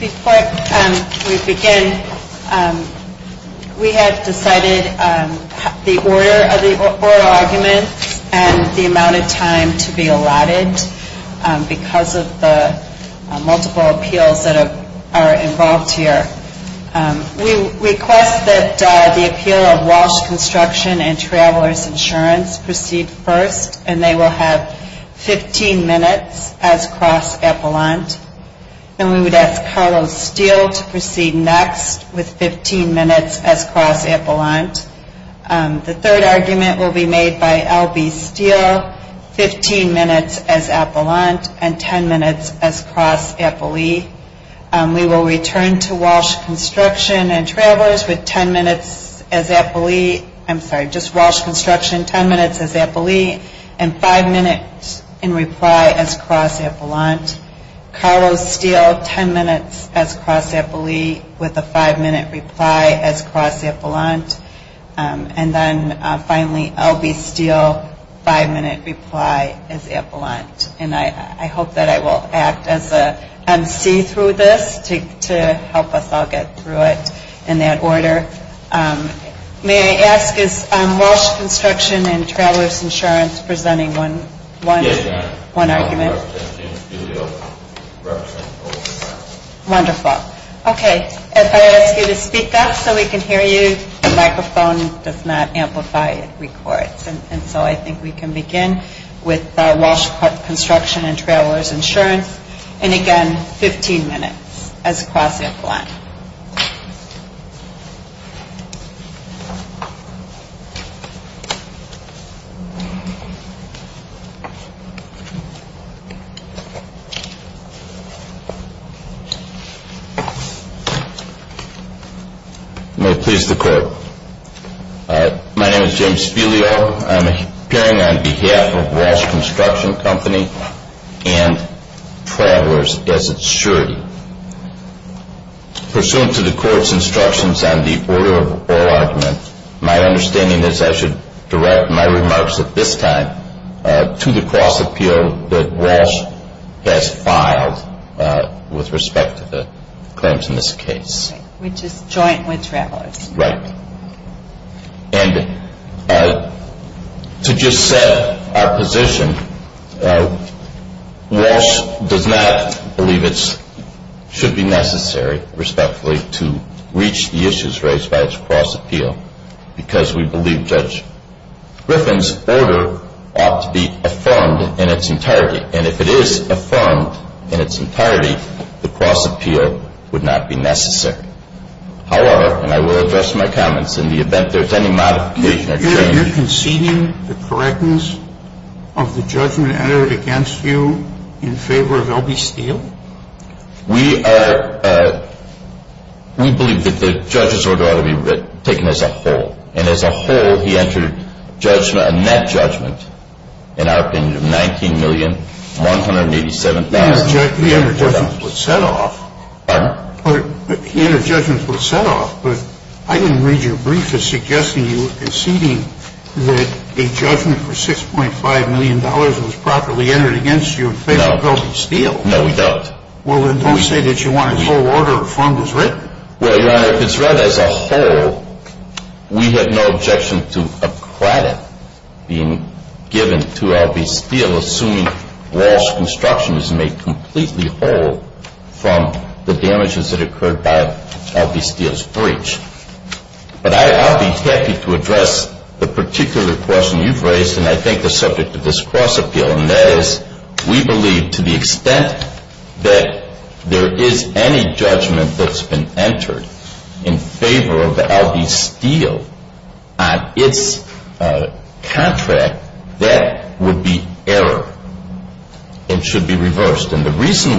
Before we begin, we have decided the order of oral arguments and the amount of time to be allotted because of the multiple appeals that are involved here. We request that the appeal of Walsh Construction and Travelers Insurance proceed first and they will have 15 minutes as cross-appellant. We would ask Carlos Steel to proceed next with 15 minutes as cross-appellant. The third argument will be made by LB Steel, 15 minutes as appellant and 10 minutes as cross-appellate. We will return to Walsh Construction and Travelers with 10 minutes as appellate, I'm sorry, just Walsh Construction, 10 minutes as appellate and 5 minutes in reply as cross-appellant. Carlos Steel, 10 minutes as cross-appellate with a 5 minute reply as cross-appellant. And then finally, LB Steel, 5 minutes reply as appellant. And I hope that I will act as an emcee through this to help us all get through it in that order. May I ask is Walsh Construction and Travelers Insurance presenting one argument? Yes, ma'am. Wonderful. Okay, as I ask you to speak up so we can hear you, the microphone does not amplify the recording. And so I think we can begin with Walsh Construction and Travelers Insurance and again, 15 minutes as cross-appellant. May it please the court. My name is James Fuglio. I'm appearing on behalf of Walsh Construction Company and Travelers as insured. Pursuant to the court's instructions on the order of oral argument, my understanding is I should direct my remarks at this time to the cross-appeal that Walsh has filed with respect to the claims in this case. Which is joint with Travelers Insurance. Right. And to just set our position, Walsh does not believe it should be necessary, respectfully, to reach the issues raised by its cross-appeal. Because we believe Judge Griffin's order ought to be affirmed in its entirety. And if it is affirmed in its entirety, the cross-appeal would not be necessary. However, and I will address my comments in the event there is any modification that you may need. Are you conceding the correctness of the judgment entered against you in favor of L.B. Steele? We believe that the judge's order ought to be taken as a whole. And as a whole, he entered a net judgment, in our opinion, of $19,187,000. He entered a judgment that was set off. Pardon? He entered a judgment that was set off, but I didn't read your brief as suggesting you were conceding that a judgment for $6.5 million was properly entered against you in favor of L.B. Steele. No, we don't. Well, then don't say that you want his whole order of the fund was written. Well, Your Honor, if it's read as a whole, we have no objection to a credit being given to L.B. Steele, assuming Wall's construction is made completely whole from the damages that occurred by L.B. Steele's breach. But I'll be happy to address the particular question you've raised, and I think the subject of this cross-appeal. We believe to the extent that there is any judgment that's been entered in favor of L.B. Steele on its contract, that would be error and should be reversed. And the reason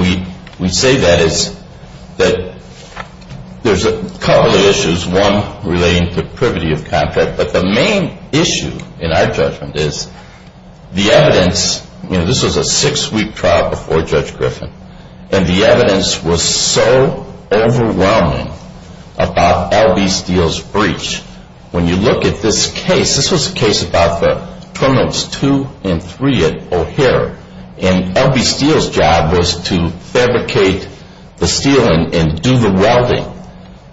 we say that is that there's a couple of issues. There's one relating to the privity of contract, but the main issue in our judgment is the evidence. This is a six-week trial before Judge Griffin, and the evidence was so overwhelming about L.B. Steele's breach. When you look at this case, this is a case about the permits 2 and 3 at O'Hare, and L.B. Steele's job was to fabricate the steel and do the welding.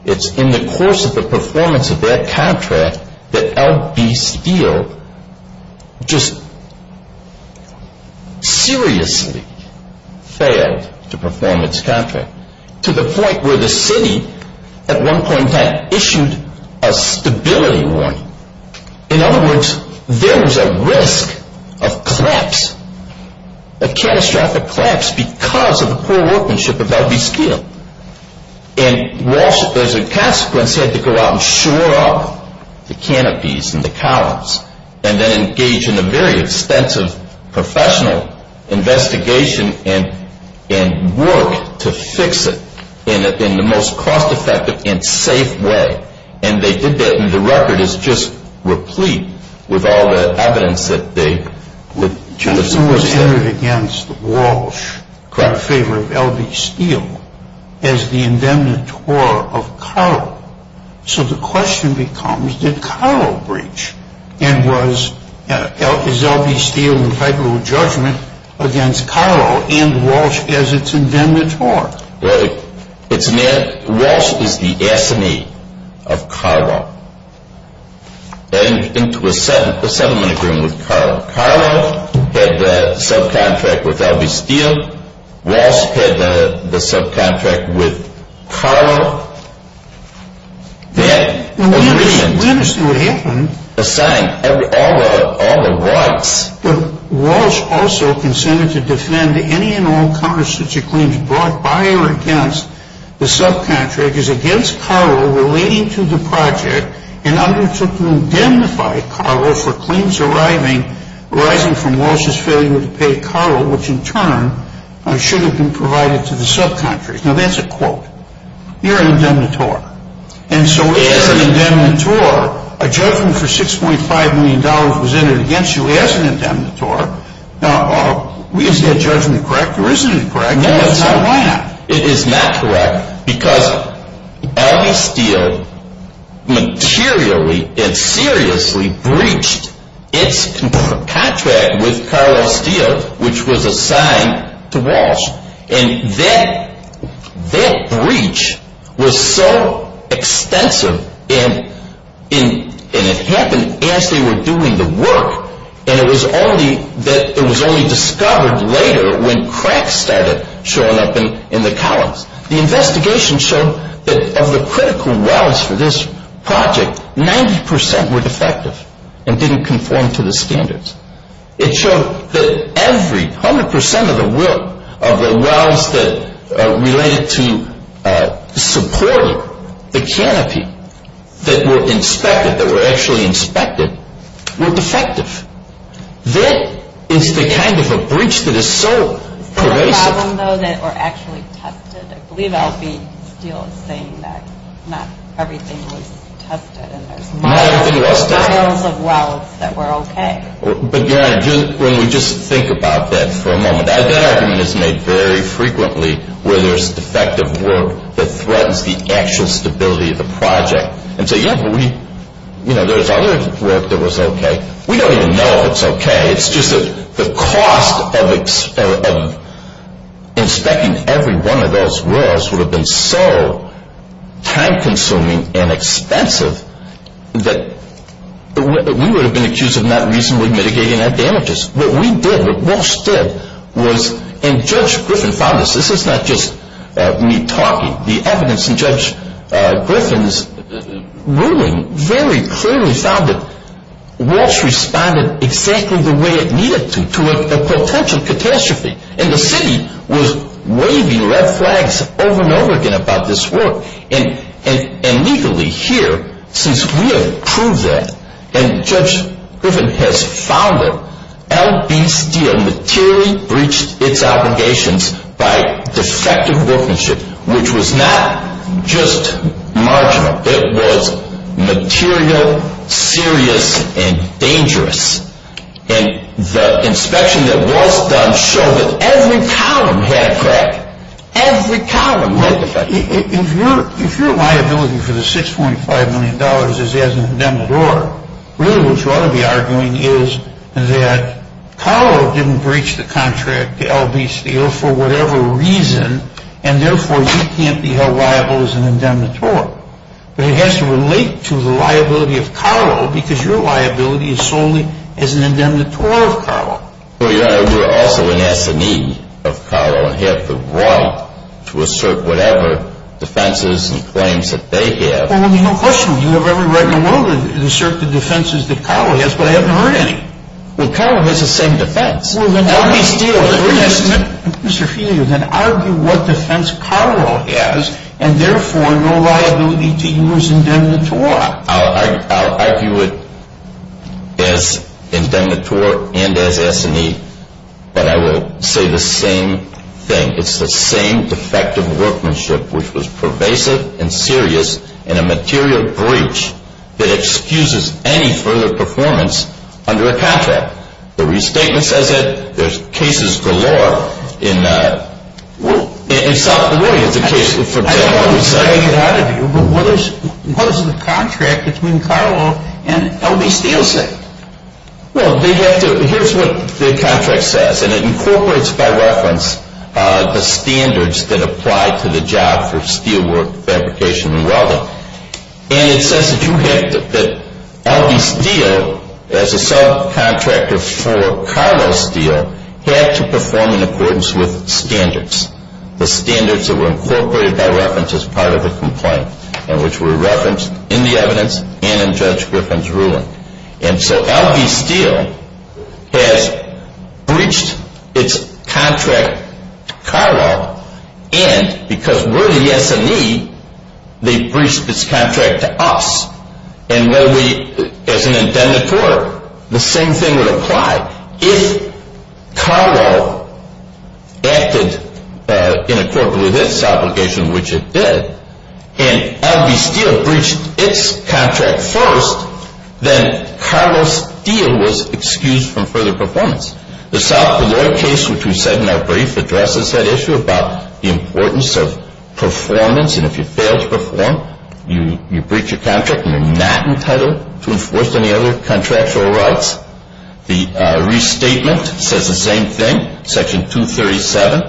It's in the course of the performance of that contract that L.B. Steele just seriously failed to perform its contract, to the point where the city, at one point in time, issued a stability warning. In other words, there was a risk of collapse, a catastrophic collapse, because of the poor workmanship of L.B. Steele. And Walsh, as a consequence, had to go out and shore up the canopies and the columns, and then engage in a very extensive professional investigation and work to fix it in the most cost-effective and safe way. And they did that, and the record is just replete with all the evidence that they... It was entered against Walsh, in favor of L.B. Steele, as the indemnitore of Cairo. So the question becomes, did Cairo breach? And was L.B. Steele in favor of judgment against Cairo and Walsh as its indemnitore? Right. Which meant Walsh was the enemy of Cairo. And into an assembly agreement with Cairo. Cairo had the subcontract with L.B. Steele. Walsh had the subcontract with Cairo. Then... We understand what happened. The same. All of Walsh... The subcontract is against Cairo, relating to the project, in order to indemnify Cairo for claims arising from Walsh's failure to pay Cairo, which in turn should have been provided to the subcontractors. Now, that's a quote. You're an indemnitore. And so if you're an indemnitore, a judgment for $6.5 million was entered against you as an indemnitore. Now, is that judgment correct? Or isn't it correct? No, it's not. It's not correct. Because L.B. Steele materially and seriously breached its contract with Cairo L. Steele, which was assigned to Walsh. And that breach was so extensive, and it happened as they were doing the work, and it was only discovered later when cracks started showing up in the columns. The investigation showed that of the critical wells for this project, 90% were defective and didn't conform to the standards. It showed that every, 100% of the work of the wells that related to support the canopy that were inspected, that were actually inspected, were defective. That is the kind of a breach that is so pervasive. There was a problem, though, that were actually tested. L.B. Steele is saying that not everything was tested. Not everything was tested. There were wells of wells that were okay. But, again, when you just think about that for a moment, I've been listening very frequently where there's defective work that threatens the actual stability of the project. And so, you know, there was other work that was okay. We don't even know it's okay. It's just that the cost of inspecting every one of those wells would have been so time-consuming and expensive that we would have been accused of not reasonably mitigating our damages. What we did, what Walsh did, was, and Judge Griffin found this. This is not just me talking. The evidence from Judge Griffin's ruling very clearly found that Walsh responded exactly the way it needed to, to a potential catastrophe. And the city was waving red flags over and over again about this work. And legally, here, since we have proved that, and Judge Griffin has found it, L.B. Steele materially breached its obligations by defective workmanship, which was not just marginal. It was material, serious, and dangerous. And the inspection that Walsh done showed that every column had crack. Every column. If your liability for the $6.5 million is as an indemnitore, really what you ought to be arguing is that Carle didn't breach the contract to L.B. Steele for whatever reason, and therefore you can't be held liable as an indemnitore. But it has to relate to the liability of Carle, because your liability is solely as an indemnitore of Carle. Well, Your Honor, we are also an affidavit of Carle. I have the right to assert whatever defenses and claims that they have. Well, there's no question. You have every right in the world to assert the defenses that Carle has, but I haven't heard any. Well, Carle has the same defense. Well, then why do you feel that we have to disagree and then argue what defense Carle has, and therefore your liability continues indemnitore? I'll argue it as indemnitore and as S&E, but I will say the same thing. It's the same defective workmanship which was pervasive and serious in a material breach that excuses any further performance under a contract. The restatement says that there's cases galore in South Florida. I have the right to argue, but what is the contract between Carle and L.B. Steele saying? Well, here's what the contract says, and it incorporates by reference the standards that apply to the job for steelwork, verification, and welding. And it says that you have that L.B. Steele, as a subcontractor for Carle Steel, has to perform in accordance with standards, the standards that were incorporated by reference as part of the complaint and which were referenced in the evidence and in Judge Griffin's ruling. And so L.B. Steele has breached its contract to Carle, and because we're the S&E, they breached its contract to us. And as an indemnitore, the same thing would apply. If Carle acted in accordance with this obligation, which it did, and L.B. Steele breached its contract first, then Carle Steel was excused from further performance. The South Florida case, which we said in our brief, addresses that issue about the importance of performance, and if you fail to perform, you breach a contract and you're not entitled to enforce any other contractual rights. The restatement says the same thing. Section 237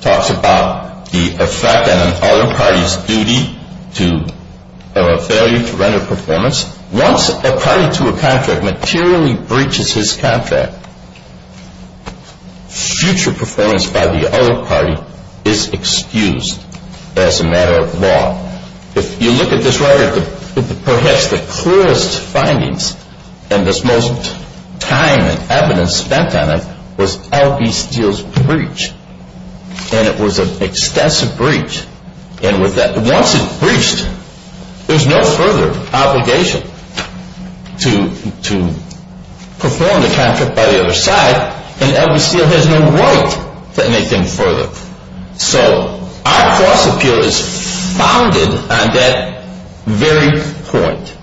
talks about the effect on the other party's duty to failure to render performance. Once a client to a contract materially breaches his contract, future performance by the other party is excused as a matter of law. If you look at this right here, perhaps the clearest findings, and the most time and evidence spent on it, was L.B. Steele's breach. And it was an extensive breach. And once it's breached, there's no further obligation to perform the contract by the other side, and L.B. Steele has no right to make them further. So, our lawsuit here is founded on that very point.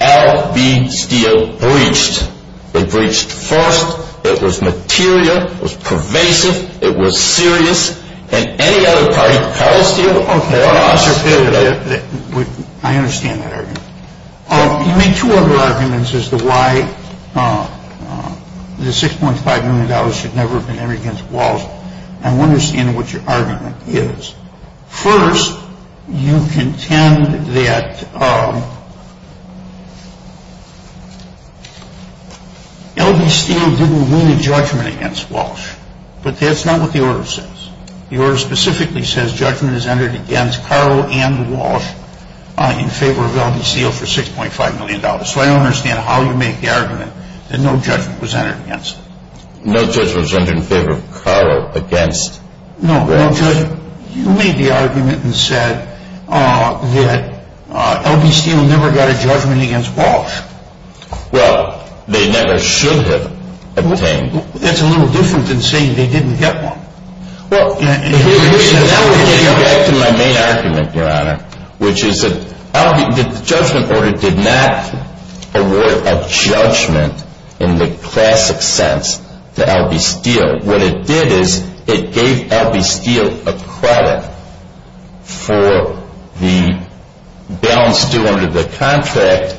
L.B. Steele breached. It breached first, it was material, it was pervasive, it was serious, and any other party's Carle Steel or Carle Steel... I understand that argument. You made two other arguments as to why the $6.5 million should never have been handed against Walsh. I don't understand what your argument is. First, you contend that L.B. Steele didn't win a judgment against Walsh. But that's not what the order says. The order specifically says judgment is entered against Carle and Walsh in favor of L.B. Steele for $6.5 million. So, I don't understand how you make the argument that no judgment was entered against them. No judgment was entered in favor of Carle against... No, you made the argument that said L.B. Steele never got a judgment against Walsh. Well, they never should have obtained... That's a little different than saying they didn't get one. Now we're getting back to my main argument, which is that the judgment order did not award a judgment in the classic sense to L.B. Steele. What it did is it gave L.B. Steele a credit for the balance due under the contract,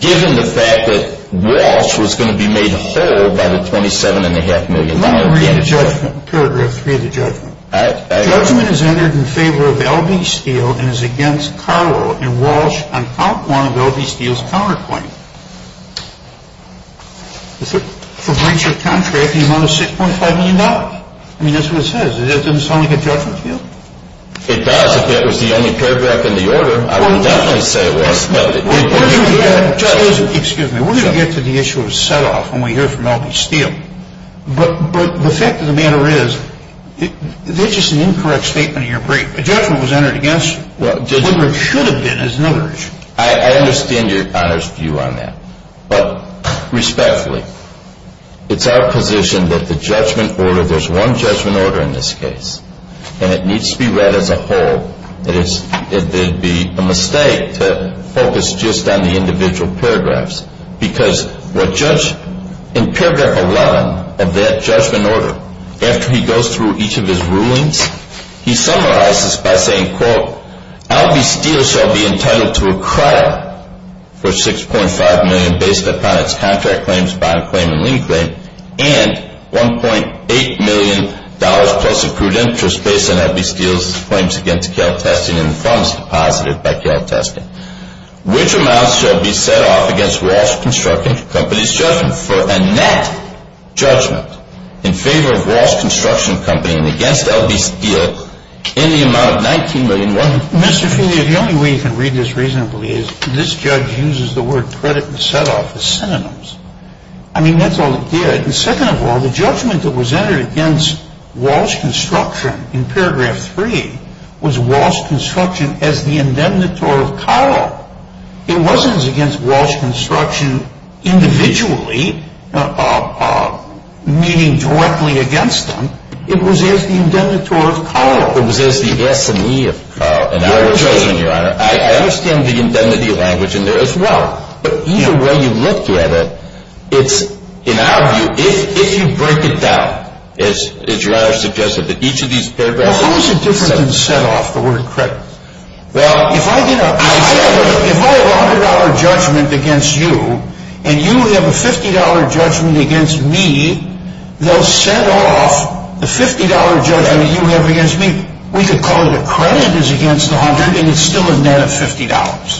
given the fact that Walsh was going to be made a federal by the 27-and-a-half million dollars. Let me read the judgment. Paragraph 3 of the judgment. The judgment is entered in favor of L.B. Steele and is against Carle and Walsh on outlawing L.B. Steele's counterpoint. The breach of contract is worth $6.5 million. I mean, that's what it says. It doesn't sound like a judgment, does it? It sounds like that was the only paragraph in the order. Excuse me. We're going to get to the issue of set-off when we hear from L.B. Steele. But the fact of the matter is, there's just an incorrect statement in your brief. A judgment was entered against him. Whether it should have been is another issue. I understand your honest view on that. But, respectfully, it's our position that the judgment order... It would be a mistake to focus just on the individual paragraphs. Because, in paragraph 1 of that judgment order, after he goes through each of his rulings, he summarizes by saying, quote, L.B. Steele shall be entitled to a credit of $6.5 million based upon his contract claims, bond claim, and lien claim, and $1.8 million plus accrued interest based on L.B. Steele's claims against CalTest and in the funds deposited by CalTest. Which amounts shall be set off against Ross Construction Company's judgment? For a net judgment in favor of Ross Construction Company and against L.B. Steele in the amount of $19.1 million. Mr. Kingley, if the only way you can read this reasonably is, this judge uses the word credit and set-off as synonyms. I mean, that's all it did. And second of all, the judgment that was added against Ross Construction in paragraph 3, was Ross Construction as the indemnitore of Carl. It wasn't as against Ross Construction individually, meaning directly against him. It was as the indemnitore of Carl. It was as the epitome of Carl. I understand the indemnity language in there as well. But either way you look at it, if you break it down, as your Honor suggested, that each of these paragraphs... How is it different than set-off, the word credit? Well, if I did a $100 judgment against you, and you would have a $50 judgment against me, no set-off, the $50 judgment you would have against me, we could call it a credit as against the $100, and it's still a net of $50.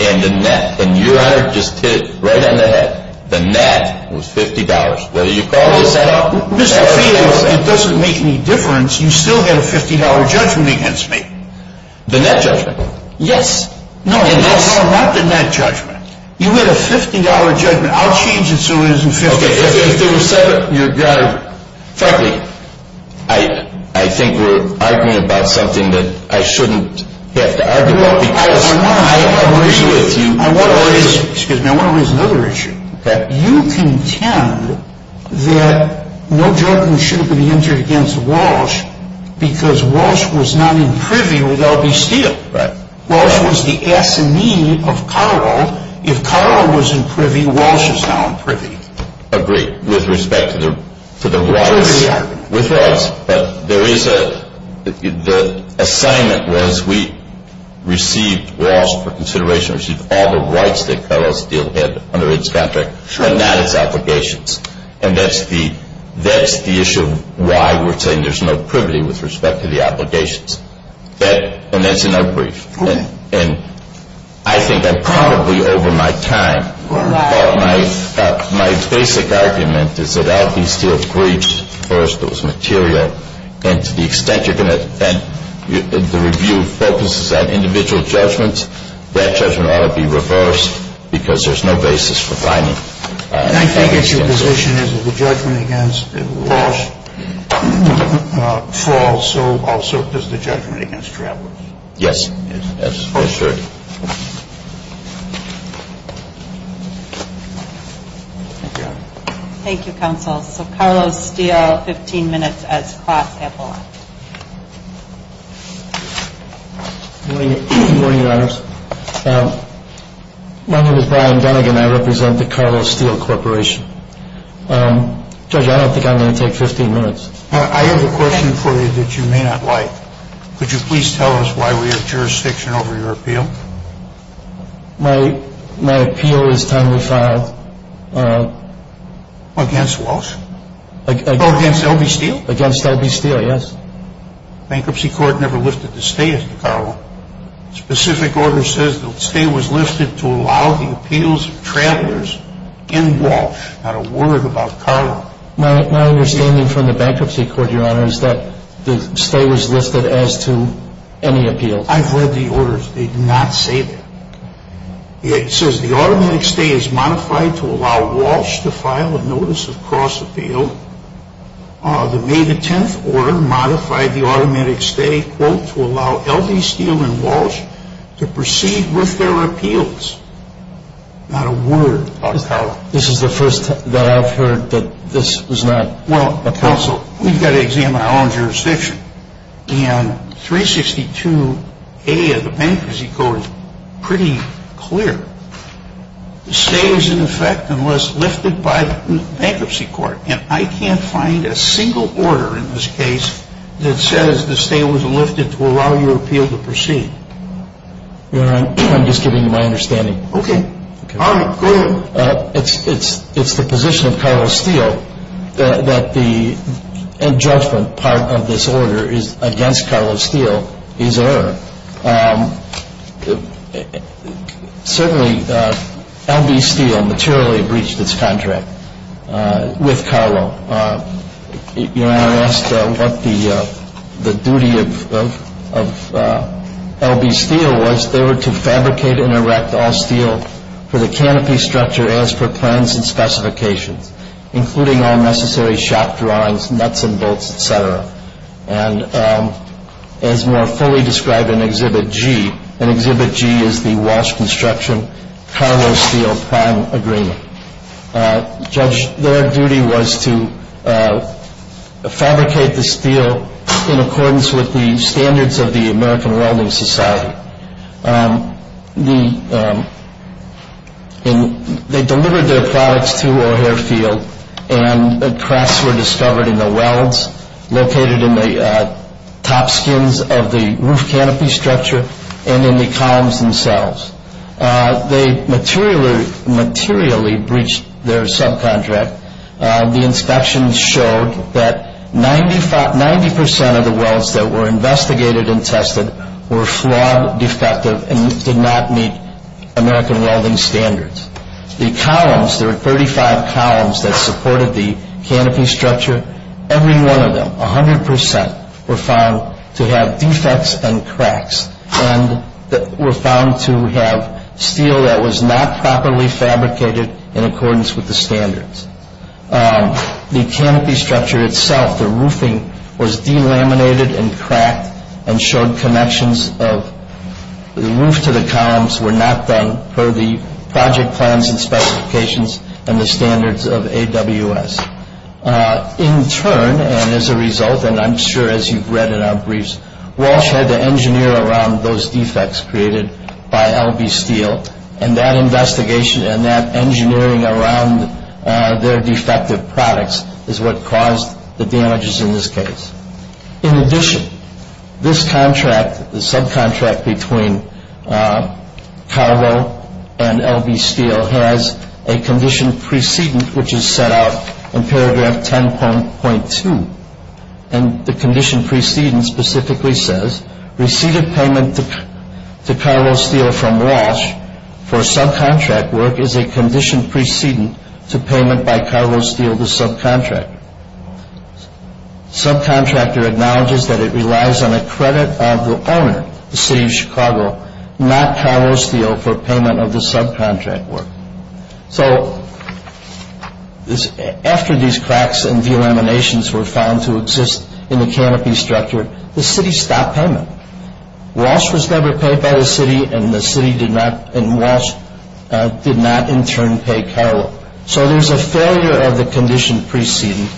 And the net, and your Honor just hit it right on the head. The net was $50. Whether you call it a set-off... It doesn't make any difference. You still get a $50 judgment against me. The net judgment? Yes. No, not the net judgment. You get a $50 judgment. I'll change it so it isn't $50. Okay. Your Honor, frankly, I think we're arguing about something that I shouldn't get to argue about. I want to raise another issue. You contend that no judgment should have been entered against Walsh, because Walsh was not in privy with L.B. Steele. Well, that was the assignee of Carle. If Carle was in privy, Walsh is now in privy. Agreed, with respect to the Walsh. With Walsh. The assignment was we received Walsh for consideration. We received all the rights that Carle Steele had under his contract, and that is obligations. And that's the issue of why we're saying there's no privity with respect to the obligations. And that's an upbreak. And I think that probably over my time, my basic argument is that L.B. Steele's briefs, first, was material, and to the extent the review focuses on individual judgments, that judgment ought to be reversed, because there's no basis for finding that. And I think if your position is that the judgment against Walsh falls, so also does the judgment against Carle. Yes. That's for sure. Thank you, counsel. So Carle Steele, 15 minutes at clock at law. Good morning, Your Honor. My name is Brian Dunigan, and I represent the Carle Steele Corporation. Judge, I don't think I'm going to take 15 minutes. I have a question for you that you may not like. Could you please tell us why we have jurisdiction over your appeal? My appeal is time to file against Walsh? Against L.B. Steele? Against L.B. Steele, yes. The Bankruptcy Court never lifted the stay of Carle. The specific order says the stay was lifted to allow the appeals of travelers in Walsh. Not a word about Carle. My understanding from the Bankruptcy Court, Your Honor, is that the stay was listed as to any appeal. I've read the orders. They do not say that. It says the automatic stay is modified to allow Walsh to file a notice of cross-appeal. The May 10th order modified the automatic stay to allow L.B. Steele and Walsh to proceed with their appeals. Not a word about Carle. This is the first time that I've heard that this is not a possibility. We've got to examine our own jurisdiction. In 362A of the Bankruptcy Court, it's pretty clear. The stay is in effect unless lifted by the Bankruptcy Court, and I can't find a single order in this case that says the stay was lifted to allow your appeal to proceed. Your Honor, I'm just giving you my understanding. Okay. Your Honor, go ahead. It's the position of Carle Steele that the in-judgment part of this order is against Carle Steele, his error. Certainly L.B. Steele materially breached this contract with Carle. Your Honor, I asked what the duty of L.B. Steele was. They were to fabricate and erect all steel for the canopy structure as per plans and specifications, including all necessary shop drawings, nuts and bolts, et cetera. And as you are fully described in Exhibit G, and Exhibit G is the Walsh Construction Carle Steele Prime Agreement. Judge, their duty was to fabricate the steel in accordance with the standards of the American Welding Society. They delivered their products to O'Hare Field, and the cracks were discovered in the welds located in the top skins of the roof canopy structure and in the columns themselves. They materially breached their subcontract. The inspections showed that 90 percent of the welds that were investigated and tested were flawed, defective, and did not meet American welding standards. The columns, there were 35 columns that supported the canopy structure. Every one of them, 100 percent, were found to have defects and cracks, and were found to have steel that was not properly fabricated in accordance with the standards. The canopy structure itself, the roofing, was delaminated and cracked and showed connections of the roof to the columns were not done per the project plans and specifications and the standards of AWS. In turn, and as a result, and I'm sure as you've read in our briefs, Walsh had to engineer around those defects created by L.B. Steel, and that investigation and that engineering around their defective products is what caused the damages in this case. In addition, this contract, the subcontract between Tarlow and L.B. Steel, has a condition precedent which is set out in paragraph 10.2, and the condition precedent specifically says, Received payment to Tarlow Steel from Walsh for subcontract work is a condition precedent to payment by Tarlow Steel to subcontract. Subcontractor acknowledges that it relies on a credit of the owner, the city of Chicago, not Tarlow Steel for payment of the subcontract work. So, after these cracks and delaminations were found to exist in the canopy structure, the city stopped payment. Walsh was never paid by the city, and the city did not, and Walsh did not in turn pay Tarlow. So there's a failure of the condition precedent,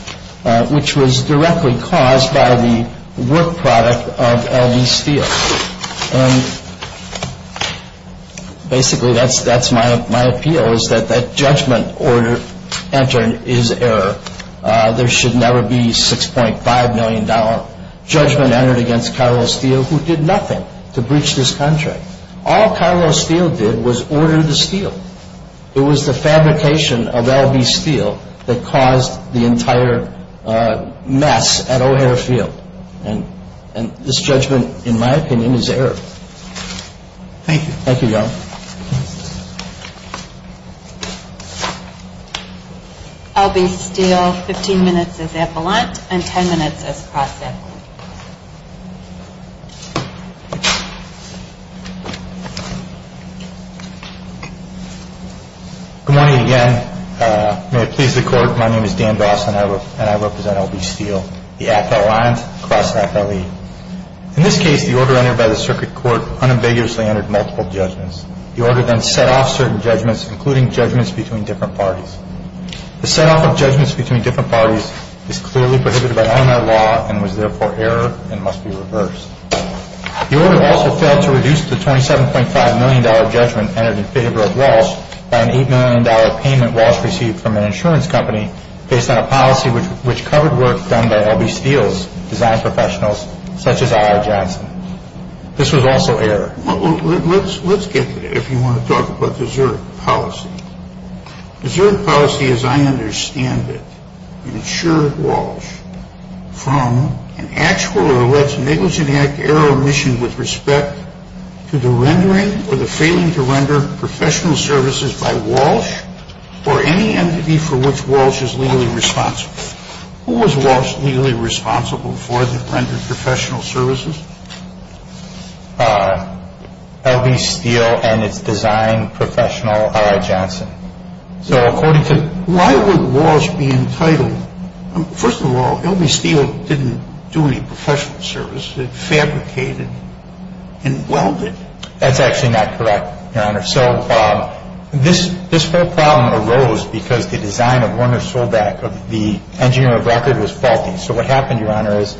which was directly caused by the work product of L.B. Steel. And basically, that's my appeal, is that that judgment order entered is error. There should never be a $6.5 million judgment entered against Tarlow Steel, who did nothing to breach this contract. All Tarlow Steel did was order the steel. It was the fabrication of L.B. Steel that caused the entire mess at O'Hare Field. And this judgment, in my opinion, is error. Thank you. Thank you, John. L.B. Steel, 15 minutes as appellant and 10 minutes as prosecutor. Good morning again. May it please the court, my name is Dan Dross, and I represent L.B. Steel. The appellant, class of 1908. In this case, the order entered by the circuit court unambiguously entered multiple judgments. The order then set off certain judgments, including judgments between different parties. The set off of judgments between different parties is clearly prohibited by Illinois law, and was therefore error, and must be reversed. The order also failed to reduce the $27.5 million judgment entered in favor of Walsh by an $8 million payment Walsh received from an insurance company, based on a policy which covered work done by L.B. Steel's design professionals, such as I.R. Johnson. This was also error. Let's get to it, if you want to talk about the Zurich policy. The Zurich policy, as I understand it, ensured Walsh from an actual or less negligent act, error, or omission with respect to the rendering or the failing to render professional services by Walsh, or any entity for which Walsh is legally responsible. Who was Walsh legally responsible for the rendered professional services? L.B. Steel and its design professional, I.R. Johnson. So, why would Walsh be entitled? First of all, L.B. Steel didn't do any professional service. They fabricated and welded. That's actually not correct, Your Honor. So, this whole problem arose because the design of the engineer of the record was faulty. So, what happened, Your Honor, is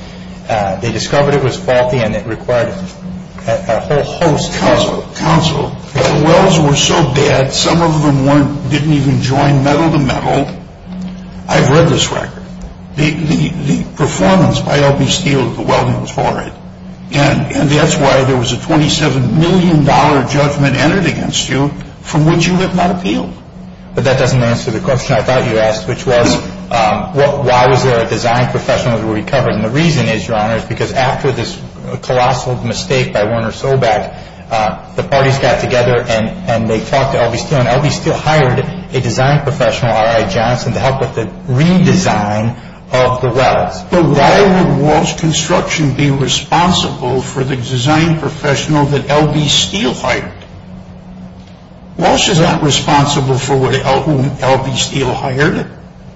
they discovered it was faulty and it required a whole host of counsel. The welds were so bad, some of them didn't even join metal to metal. I've read this record. The performance by L.B. Steel is overwhelmingly poor, and that's why there was a $27 million judgment entered against you for which you have not appealed. But that doesn't answer the question I thought you asked, which was, why was there a design professional who recovered? And the reason is, Your Honor, is because after this colossal mistake by Werner Sobeck, the parties got together and they talked to L.B. Steel, and L.B. Steel hired a design professional, R.I. Johnson, to help with the redesign of the welds. So, why would Walsh Construction be responsible for the design professional that L.B. Steel hired? Walsh is not responsible for who L.B. Steel hired.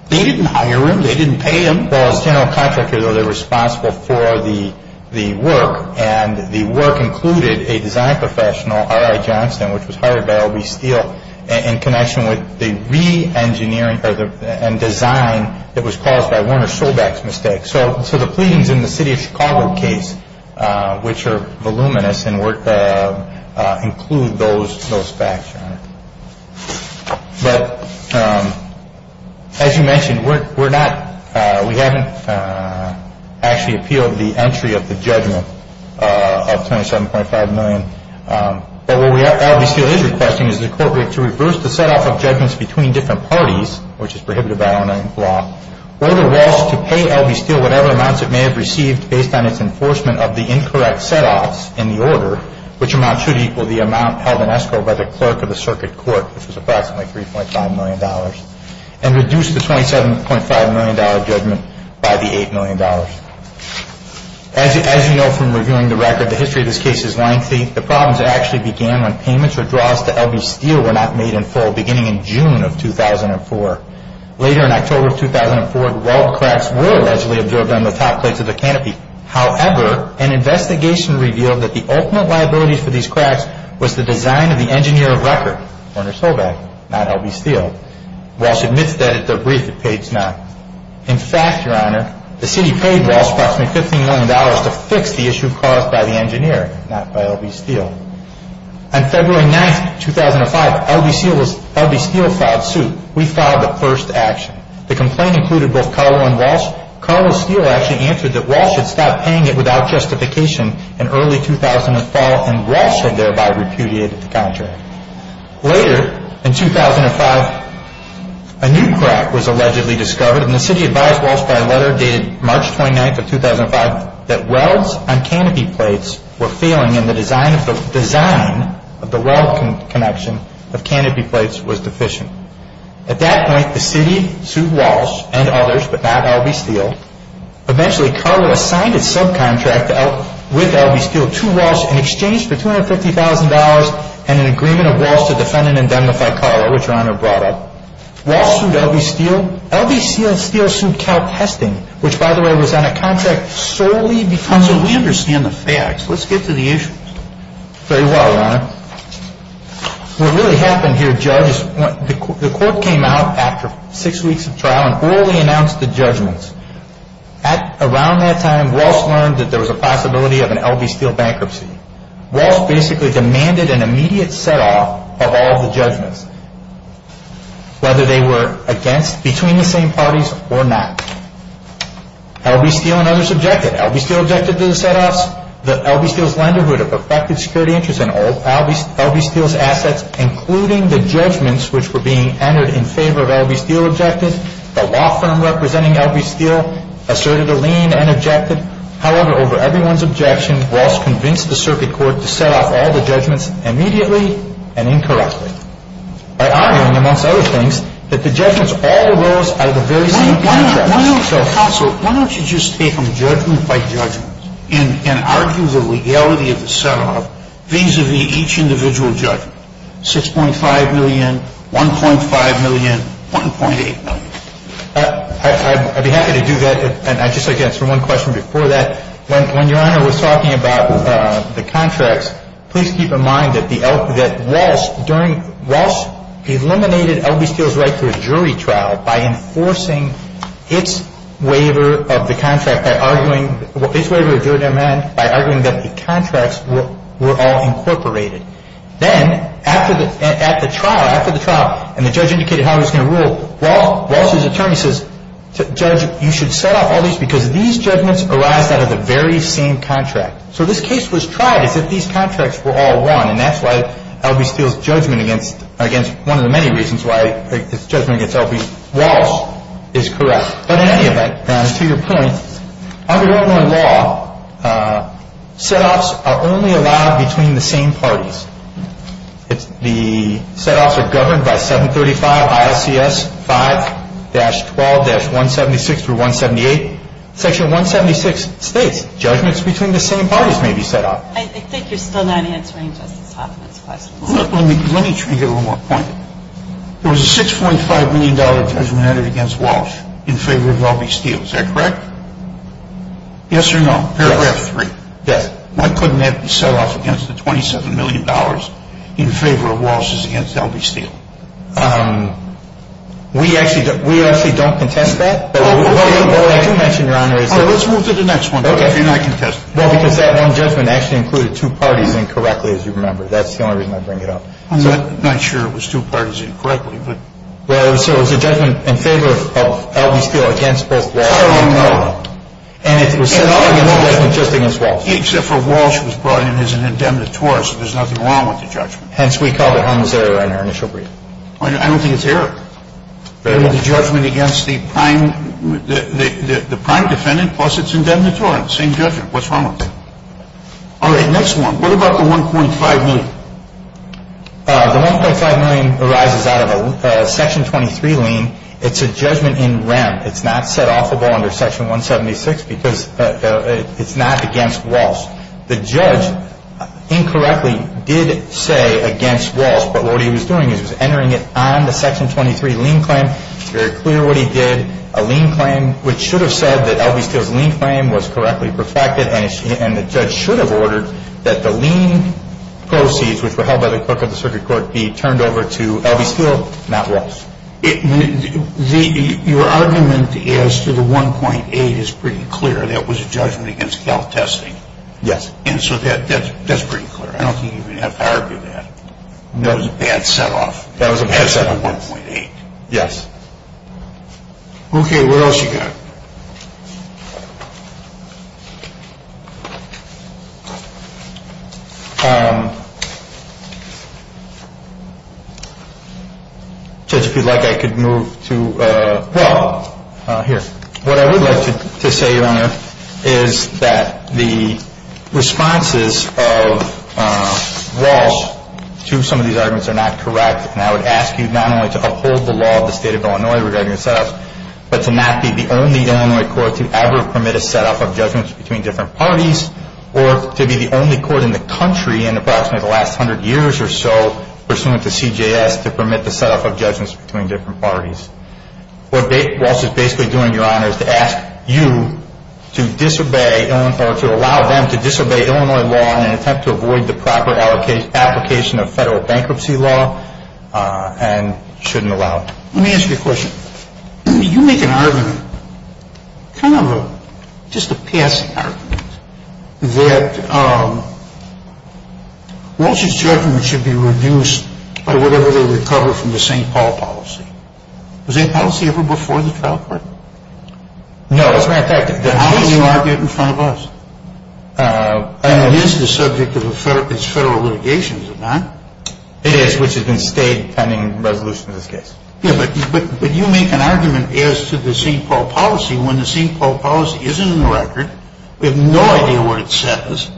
They didn't hire him. They didn't pay him. Well, as general contractors, they're responsible for the work, and the work included a design professional, R.I. Johnson, which was hired by L.B. Steel in connection with the re-engineering and design that was caused by Werner Sobeck's mistake. So, the pleas in the City of Chicago case, which are voluminous and include those facts, Your Honor. But, as you mentioned, we're not. We haven't actually appealed the entry of the judgment of $27.5 million. But what L.B. Steel is requesting is that it's appropriate to reverse the setup of judgments between different parties, which is prohibited by our law, whether Walsh should pay L.B. Steel whatever amounts it may have received based on its enforcement of the incorrect setoffs in the order, which amount should equal the amount held in escrow by the clerk of the circuit court, which is approximately $3.5 million, and reduce the $27.5 million judgment by the $8 million. As you know from reviewing the record, the history of this case is lengthy. The problems actually began when payments or draws to L.B. Steel were not made in full beginning in June of 2004. Later in October of 2004, the wall cracks were allegedly observed on the top plate of the canopy. However, an investigation revealed that the ultimate liability for these cracks was the design of the engineer of record, Werner Solvang, not L.B. Steel. Walsh admits that it's a brief case, not. In fact, Your Honor, the City paid Walsh approximately $15 million to fix the issue caused by the engineer, not by L.B. Steel. On February 9, 2005, L.B. Steel filed suit. We filed the first action. The complaint included both Karlo and Walsh. Karlo Steel actually answered that Walsh had stopped paying it without justification in early 2004, and Walsh had thereby repudiated the contract. Later, in 2005, a new crack was allegedly discovered, and the City advised Walsh by a letter dated March 29, 2005, that welds on canopy plates were failing and the design of the weld connection of canopy plates was deficient. At that point, the City sued Walsh and others, but not L.B. Steel. Eventually, Karlo signed a subcontract with L.B. Steel to Walsh in exchange for $250,000 and an agreement of Walsh to defend and indemnify Karlo, which Your Honor brought up. Walsh sued L.B. Steel. So, L.B. Steel and Steel sued Karlo for testing, which by the way was on a contract solely because... So, we understand the facts. Let's get to the issues. Very well, Your Honor. What really happened here, Judge, is the court came out after six weeks of trial and orally announced the judgments. Around that time, Walsh learned that there was a possibility of an L.B. Steel bankruptcy. Walsh basically demanded an immediate set-off of all the judgments, whether they were between the same parties or not. L.B. Steel and others objected. L.B. Steel objected to the set-offs. L.B. Steel's lenderhood affected security interests in all of L.B. Steel's assets, including the judgments which were being entered in favor of L.B. Steel objectives. The law firm representing L.B. Steel asserted a lien and objected. However, over everyone's objection, Walsh convinced the circuit court to set-off all the judgments immediately and incorrectly. I argue, amongst other things, that the judgments all rose at the very same time. Why don't you just take them judgment by judgment and argue the legality of the set-off vis-à-vis each individual judgment? 6.5 million, 1.5 million, 1.8 million. I'd be happy to do that, and I'd just like to answer one question before that. When Your Honor was talking about the contracts, please keep in mind that Walsh eliminated L.B. Steel's right to a jury trial by enforcing its waiver of the contract by arguing that the contracts were all incorporated. Then, after the trial, and the judge indicated how he was going to rule, Walsh's attorney says, Judge, you should set-off all these because these judgments arise out of the very same contract. So this case was tried except these contracts were all won, and that's why L.B. Steel's judgment against one of the many reasons why this judgment against L.B. Walsh is correct. But in any event, Your Honor, to your point, under well-worn law, set-offs are only allowed between the same parties. The set-offs are governed by 735 I.C.S. 5-12-176-178. Section 176 states judgments between the same parties may be set-off. I think you're still not answering the top of the question. Let me try to get a little more pointed. There was a $6.5 million judgment against Walsh in favor of L.B. Steel. Is that correct? Yes or no? Yes. Why couldn't that be set-off against the $27 million in favor of Walsh's against L.B. Steel? We actually don't contest that. All right, let's move to the next one. You're not contesting. Well, because that one judgment actually included two parties incorrectly, as you remember. That's the only reason I'm bringing it up. I'm not sure it was two parties incorrectly. So it was a judgment in favor of L.B. Steel against both Walsh's. And it was set-off against Walsh's against Walsh's. Except for Walsh was brought in as an indemnitory, so there's nothing wrong with the judgment. Hence, we call it homicidal error in our initial briefing. I don't think it's error. But it was a judgment against the prime defendant plus its indemnitory. It's the same judgment. What's wrong with it? All right, next one. What about the $1.5 million? The $1.5 million arises out of a Section 23 lien. It's a judgment in rent. It's not set-offable under Section 176 because it's not against Walsh's. The judge incorrectly did say against Walsh's. But what he was doing is he was entering it on the Section 23 lien claim. It's very clear what he did. A lien claim, which should have said that L.B. Steel's lien claim was correctly perfected, and the judge should have ordered that the lien proceeds, which were held by the clerk of the circuit court, be turned over to L.B. Steel, not Walsh's. Your argument as to the $1.8 million is pretty clear. That was a judgment against gout testing. Yes. And so that's pretty clear. I don't think you even have to argue that. That was a bad set-off. That was a bad set-off, $1.8 million. Yes. Okay, what else you got? Okay. Judge, if you'd like, I could move to law here. What I would like to say, Your Honor, is that the responses of Walsh to some of these arguments are not correct. And I would ask you not only to uphold the law of the State of Illinois regarding the set-offs, but to not be the only Illinois court to ever permit a set-off of judgments between different parties, or to be the only court in the country in approximately the last 100 years or so, pursuant to CJS, to permit the set-off of judgments between different parties. What Walsh is basically doing, Your Honor, is to ask you to allow them to disobey Illinois law and, in fact, to avoid the proper application of federal bankruptcy law and shouldn't allow it. Let me ask you a question. You make an argument, kind of just a past argument, that Walsh's judgment should be reduced by whatever they recover from the St. Paul policy. Was that policy ever before the trial court? No, as a matter of fact, it did. Then how do you argue it in front of us? And it is the subject of federal litigation, is it not? It is, which has been stated in the resolution of the case. Yes, but you make an argument as to the St. Paul policy when the St. Paul policy isn't in the record, we have no idea what it says,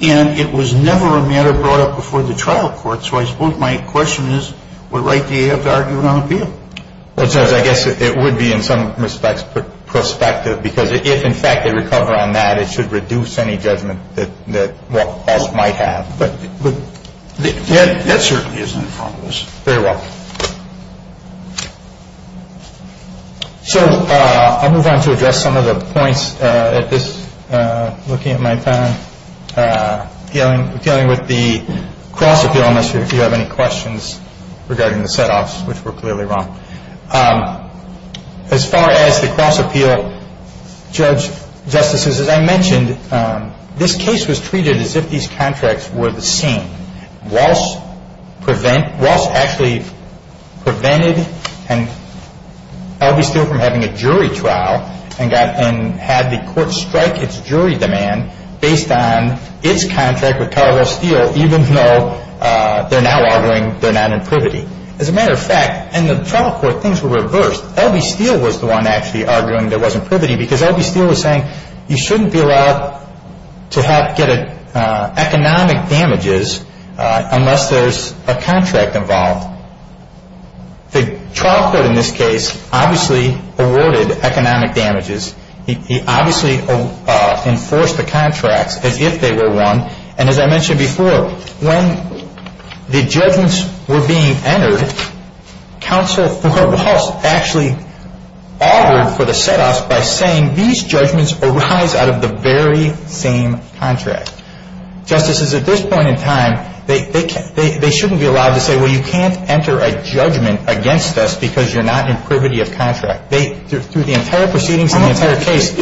and it was never a matter brought up before the trial court. So I suppose my question is, what right do you have to argue it on appeal? I guess it would be, in some respects, prospective, because if, in fact, they recover on that, it should reduce any judgment that Walsh might have. That certainly is in front of us. Very well. So I'll move on to address some of the points at this, looking at my time, dealing with the cross-appeal issue, if you have any questions regarding the set-offs, which were clearly wrong. As far as the cross-appeal, Judge, Justices, as I mentioned, this case was treated as if these contracts were the same. Walsh actually prevented, and obviously from having a jury trial, and had the court strike its jury demand based on its contract with Cargill Steel, even though they're now arguing they're not in privity. As a matter of fact, in the trial court, things were reversed. L.B. Steel was the one actually arguing there wasn't privity, because L.B. Steel was saying you shouldn't be allowed to get economic damages unless there's a contract involved. The trial court, in this case, obviously awarded economic damages. He obviously enforced the contract that if they were won, and as I mentioned before, when the judgments were being entered, counsel, from her behalf, actually altered for the set-offs by saying these judgments arise out of the very same contract. Justices, at this point in time, they shouldn't be allowed to say, well, you can't enter a judgment against us because you're not in privity of contract. Through the entire proceeding, through the entire case,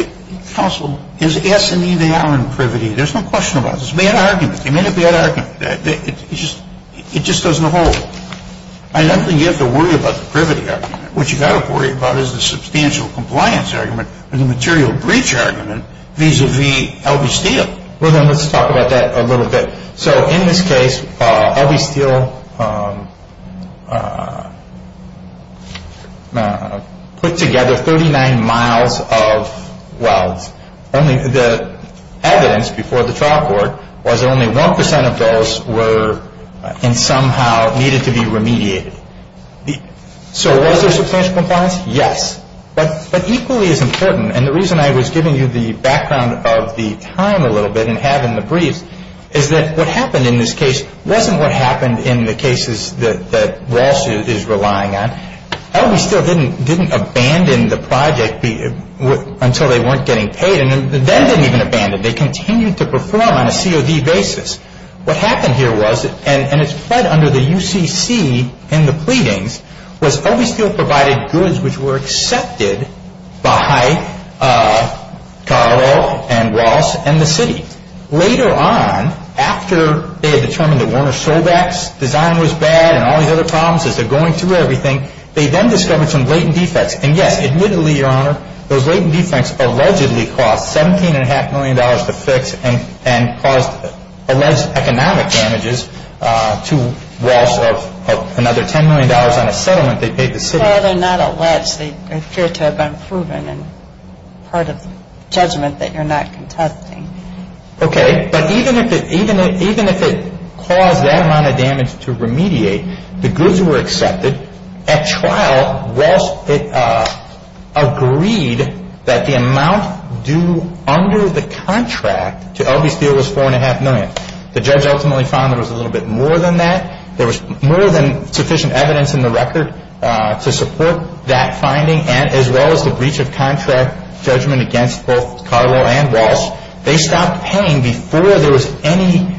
counsel is asking me they are in privity. There's no question about it. It's a bad argument. It may be a bad argument. It just doesn't hold. I don't think you have to worry about the privity argument. What you have to worry about is the substantial compliance argument and the material breach argument vis-à-vis L.B. Steel. Let's talk about that a little bit. So, in this case, L.B. Steel put together 39 miles of wealth. The evidence before the trial court was only 1% of those somehow needed to be remediated. So, was there substantial compliance? Yes. But equally as important, and the reason I was giving you the background of the time a little bit and having the brief, is that what happened in this case wasn't what happened in the cases that Walsh is relying on. L.B. Steel didn't abandon the project until they weren't getting paid. And then they didn't even abandon it. They continued to perform on a COD basis. What happened here was, and it's right under the UCC in the pleadings, was L.B. Steel provided goods which were accepted by Carroll and Walsh and the city. Later on, after they had determined the Warner sold backs, the diner was bad, and all these other problems as they're going through everything, they then discovered some latent defects. And yet, admittedly, Your Honor, those latent defects allegedly cost $17.5 million to fix and caused alleged economic damages to Walsh of another $10 million on a settlement they paid the city. Well, they're not alleged. They appear to have been proven and part of the judgment that you're not contesting. Okay. But even if it caused that amount of damage to remediate, the goods were accepted. At trial, Walsh agreed that the amount due under the contract to L.B. Steel was $4.5 million. The judge ultimately found there was a little bit more than that. There was more than sufficient evidence in the record to support that finding, as well as the breach of contract judgment against both Carroll and Walsh. They stopped paying before there was any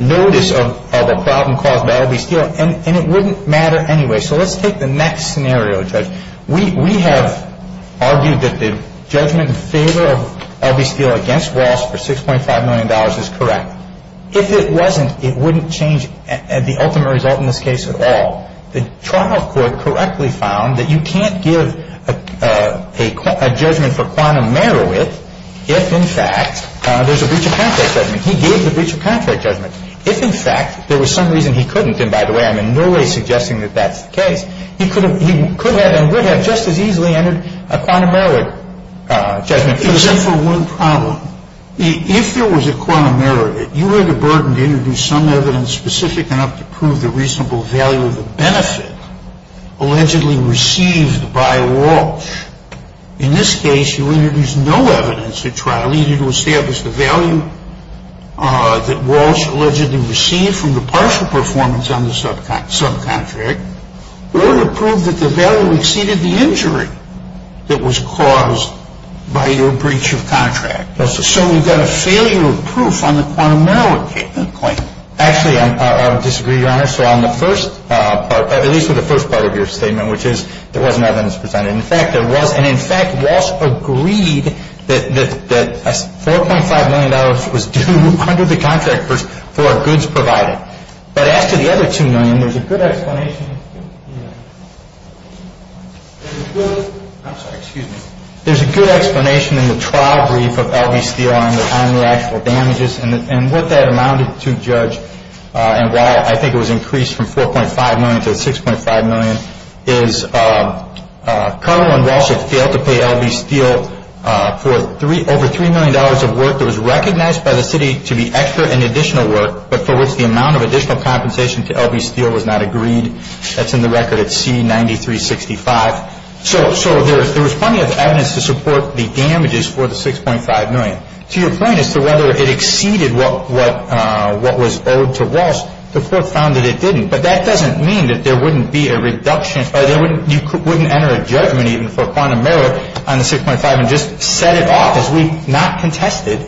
notice of a problem caused by L.B. Steel, and it wouldn't matter anyway. So let's take the next scenario, Judge. We have argued that the judgment in favor of L.B. Steel against Walsh for $6.5 million is correct. If it wasn't, it wouldn't change the ultimate result in this case at all. The trial court correctly found that you can't give a judgment for quantum meriwith if, in fact, there's a breach of contract judgment. He gave the breach of contract judgment. If, in fact, there was some reason he couldn't, and by the way, I'm in no way suggesting that that's the case, he could have and would have just as easily entered a quantum meriwith judgment. Except for one problem. If there was a quantum meriwith, you were the burden to introduce some evidence specific enough to prove the reasonable value of the benefit allegedly received by Walsh. In this case, you introduced no evidence at trial, either to establish the value that Walsh allegedly received from the partial performance on the subcontract, or to prove that the value exceeded the injury that was caused by your breach of contract. So we've got a failure of proof on the quantum meriwith judgment point. Actually, I would disagree, honestly, on the first part, at least on the first part of your statement, which is there was no evidence presented. In fact, Walsh agreed that $4.5 million was due under the contract for our goods provided. But after the other $2 million, there's a good explanation in the trial brief about L.B. Steele and the time lag for damages and what that amounted to, Judge, and why I think it was increased from $4.5 million to $6.5 million, is Cardinal and Walsh had failed to pay L.B. Steele for over $3 million of work that was recognized by the city to be extra and additional work, but for which the amount of additional compensation to L.B. Steele was not agreed. That's in the record at C-9365. So there was plenty of evidence to support the damages for the $6.5 million. To your point as to whether it exceeded what was owed to Walsh, the court found that it didn't. But that doesn't mean that there wouldn't be a reduction. You wouldn't enter a judgment even for quantum merit on the $6.5 million and just set it off as we've not contested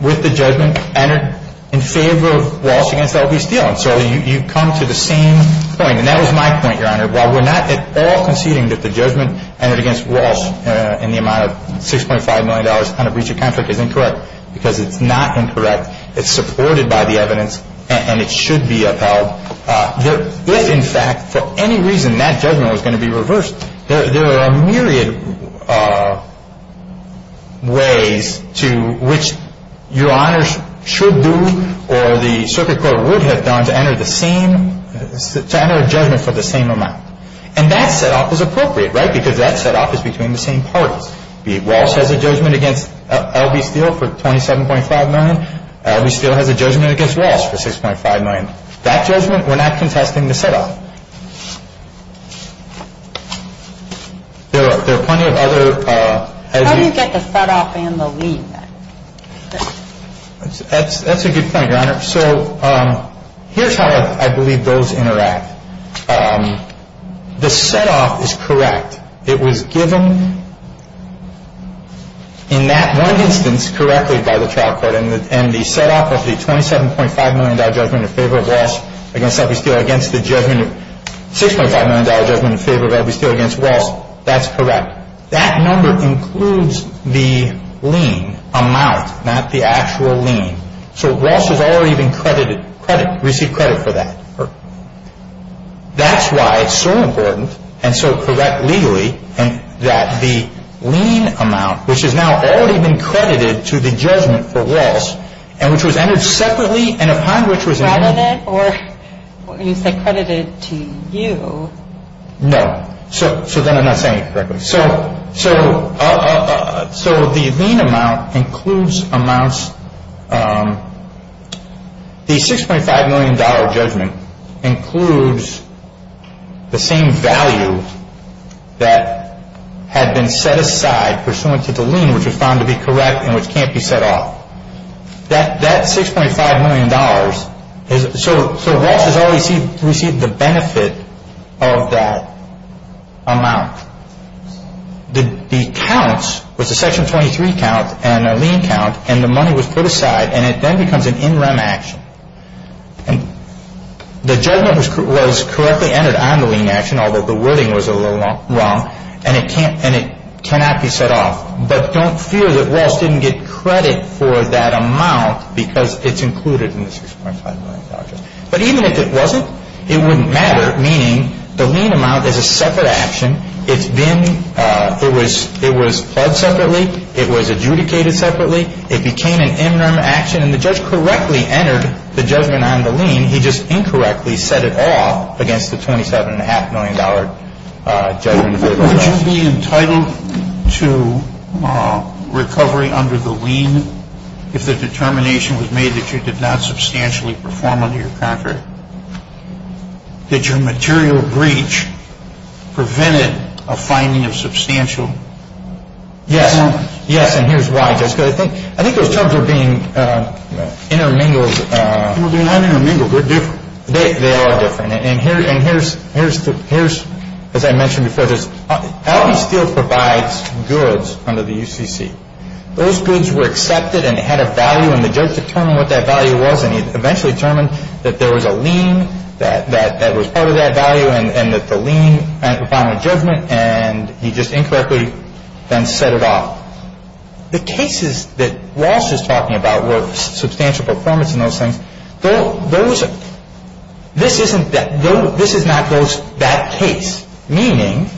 with the judgment entered in favor of Walsh against L.B. Steele. So you've come to the same point, and that was my point, Your Honor. While we're not at all conceding that the judgment entered against Walsh in the amount of $6.5 million kind of breach of contract is incorrect, because it's not incorrect, it's supported by the evidence, and it should be upheld, if, in fact, for any reason, that judgment was going to be reversed, there are a myriad of ways to which Your Honor should do or the Circuit Court would have done to enter a judgment for the same amount. And that set-off is appropriate, right, because that set-off is between the same parties. Walsh has a judgment against L.B. Steele for $27.5 million. L.B. Steele has a judgment against Walsh for $6.5 million. That judgment, we're not contesting the set-off. I didn't get the set-off in the lead. That's a good point, Your Honor. So here's how I believe those interact. The set-off is correct. It was given in that one instance correctly by the trial court, and the set-off was the $27.5 million judgment in favor of Walsh against L.B. Steele against the $6.5 million judgment in favor of L.B. Steele against Walsh. That's correct. That number includes the lien amount, not the actual lien. So Walsh has already been credited, received credit for that. That's why it's so important, and so correct legally, that the lien amount, which has now already been credited to the judgment for Walsh, and which was entered separately and upon which was entered separately. Was Walsh credited to you? No. So then I'm not saying it correctly. So the lien amount includes amounts. The $6.5 million judgment includes the same value that had been set aside pursuant to the lien, which was found to be correct and which can't be set off. That $6.5 million, so Walsh has already received the benefit of that amount. The counts was a Section 23 count and a lien count, and the money was put aside, and it then becomes an in-rem action. The judgment was correctly entered on the lien action, although the wording was a little wrong, and it cannot be set off. But don't fear that Walsh didn't get credit for that amount because it's included in the $6.5 million judgment. But even if it wasn't, it wouldn't matter, meaning the lien amount is a separate action. It was fed separately. It was adjudicated separately. It became an in-rem action, and the judge correctly entered the judgment on the lien. I mean, he just incorrectly set it off against the $27.5 million judgment. Would you be entitled to recovery under the lien if the determination was made that you did not substantially perform under your contract? Did your material breach prevent it from finding a substantial amount? Yes, and here's why. I think those terms are being intermingled. They're not intermingled. They're different. They are different. And here's, as I mentioned before this, Allen Steel provides goods under the UCC. Those goods were accepted and had a value, and the judge determined what that value was, and he eventually determined that there was a lien that was part of that value, and that the lien found a judgment, and he just incorrectly then set it off. The cases that Walsh is talking about were substantial performance in those things. This is not just that case. Meaning,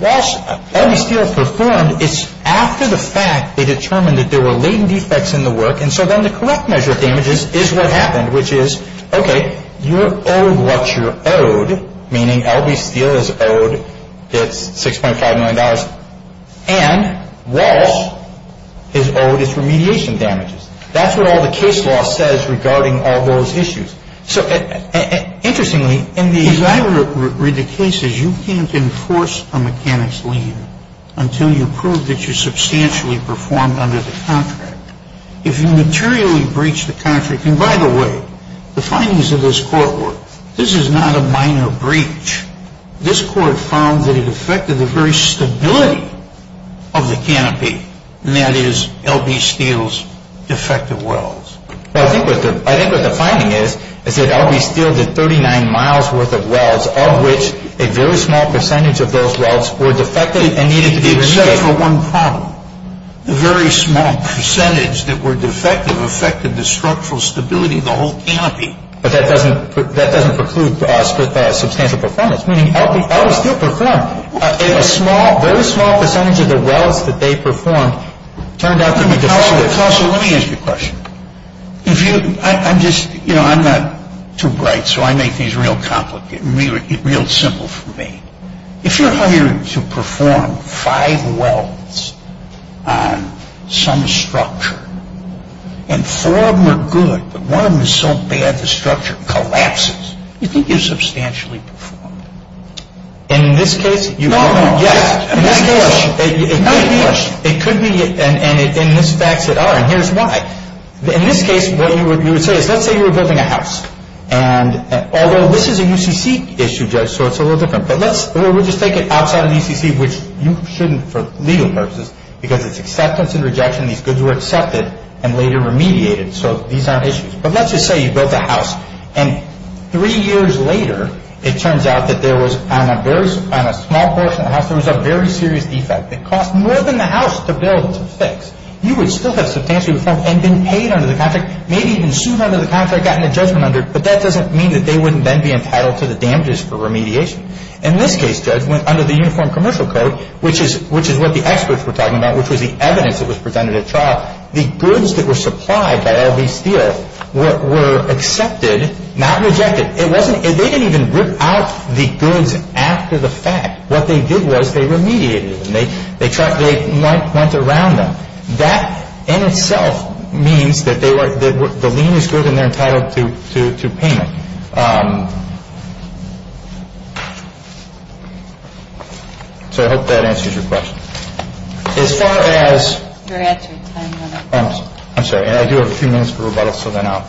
Walsh and Allen Steel performed after the fact. They determined that there were lien defects in the work, and so then the correct measure of damages is what happened, which is, okay, you're owed what you're owed, meaning Allen Steel is owed $6.5 million, and Walsh is owed his remediation damages. That's what all the case law says regarding all those issues. So, interestingly, in these aggregate cases, you can't enforce a mechanic's lien until you prove that you substantially performed under the contract. If you materially breach the contract, and by the way, the findings of this court were, this is not a minor breach. This court found that it affected the very stability of the canopy, and that is L.B. Steel's defective wells. I think what the finding is, is that L.B. Steel, the 39 miles worth of wells, all of which, a very small percentage of those wells were defective and needed to be reset for one problem. The very small percentage that were defective affected the structural stability of the whole canopy. But that doesn't preclude substantial performance, meaning L.B. Steel performed. A very small percentage of the wells that they performed turned out to be defective. Counselor, let me ask you a question. I'm just, you know, I'm not too bright, so I make these real complicated, real simple for me. If you're hired to perform five wells on some structure, and four were good, but one was so bad the structure collapses, do you think you're substantially performing? In this case, you are. No, no. Yes. It could be, and this backs it up, and here's why. In this case, what you would say is, let's say you were building a house, and although this is a UCC issue, Judge, so it's a little different, but let's just take it outside of UCC, which you shouldn't for legal purposes, because it's acceptance and rejection, and it's good you accepted and later remediated, so these aren't issues. But let's just say you built a house, and three years later, it turns out that there was on a small portion of the house, there was a very serious defect that cost more than the house to build and fix. You would still have substantially performed and been paid under the contract, maybe even cheated under the contract and gotten a judgment under it, but that doesn't mean that they wouldn't then be entitled to the damages for remediation. In this case, Judge, under the Uniform Commercial Code, which is what the experts were talking about, which was the evidence that was presented at trial, the goods that were supplied by LBCO were accepted, not rejected. They didn't even rip out the goods after the fact. What they did was they remediated them. They went around them. That, in itself, means that the lien is good and they're entitled to payment. So I hope that answers your question. I'm sorry, and I do have a few minutes for rebuttal, so then I'll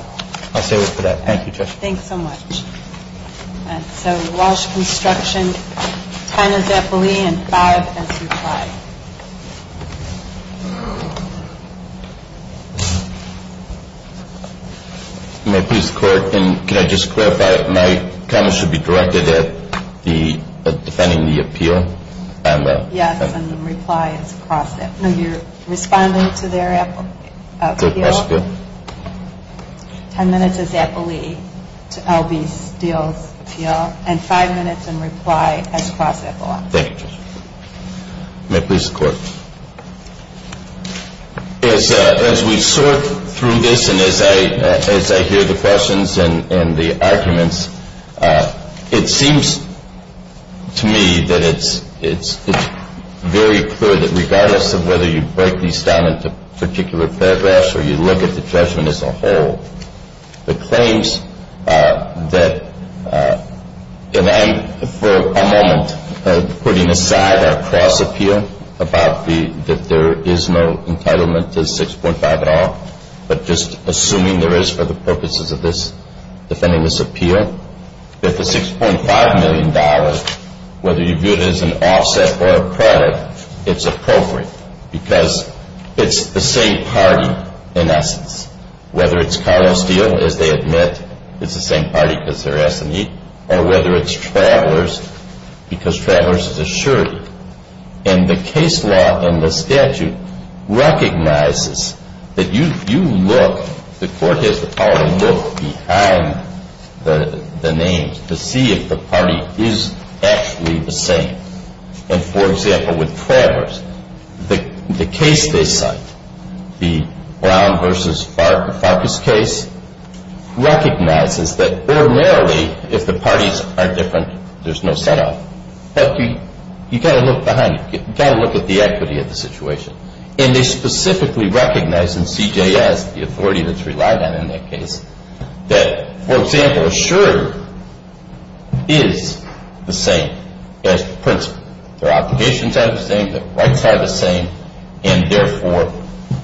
stay with that. Thank you, Judge. Thanks so much. And so we lost instruction. Final defilee in five and reply. May I please clarify? Can I just clarify that my comments should be directed at the defending the appeal? Yes, and the reply is processed. Are you responding to their appeal? Yes, I am. Ten minutes of defilee to LBCO. And five minutes in reply as process allows. Thank you, Judge. May I please have a question? As we sort through this and as I hear the questions and the arguments, it seems to me that it's very clear that regardless of whether you break these down into particular paragraphs or you look at the judgment as a whole, the claims that demand, for a moment, putting aside our cross-appeal about that there is no entitlement to 6.5 at all, but just assuming there is for the purposes of this defending this appeal, that the $6.5 million, whether you view it as an offset or a credit, it's appropriate because it's the same party in essence. Whether it's Kyle Steele, as they admit, it's the same party because they're ethnic, or whether it's Travers because Travers is a shirt. And the case law and the statute recognizes that you look, the court has the power to look behind the names to see if the party is actually the same. And, for example, with Travers, the case they cite, the Brown versus Farkas case, recognizes that ordinarily, if the parties are different, there's no set-up. But you've got to look behind you. You've got to look at the equity of the situation. And they specifically recognize in CJS, the authority that's relied on in that case, that, for example, a shirt is the same as the principal. The obligations are the same, the rights are the same, and therefore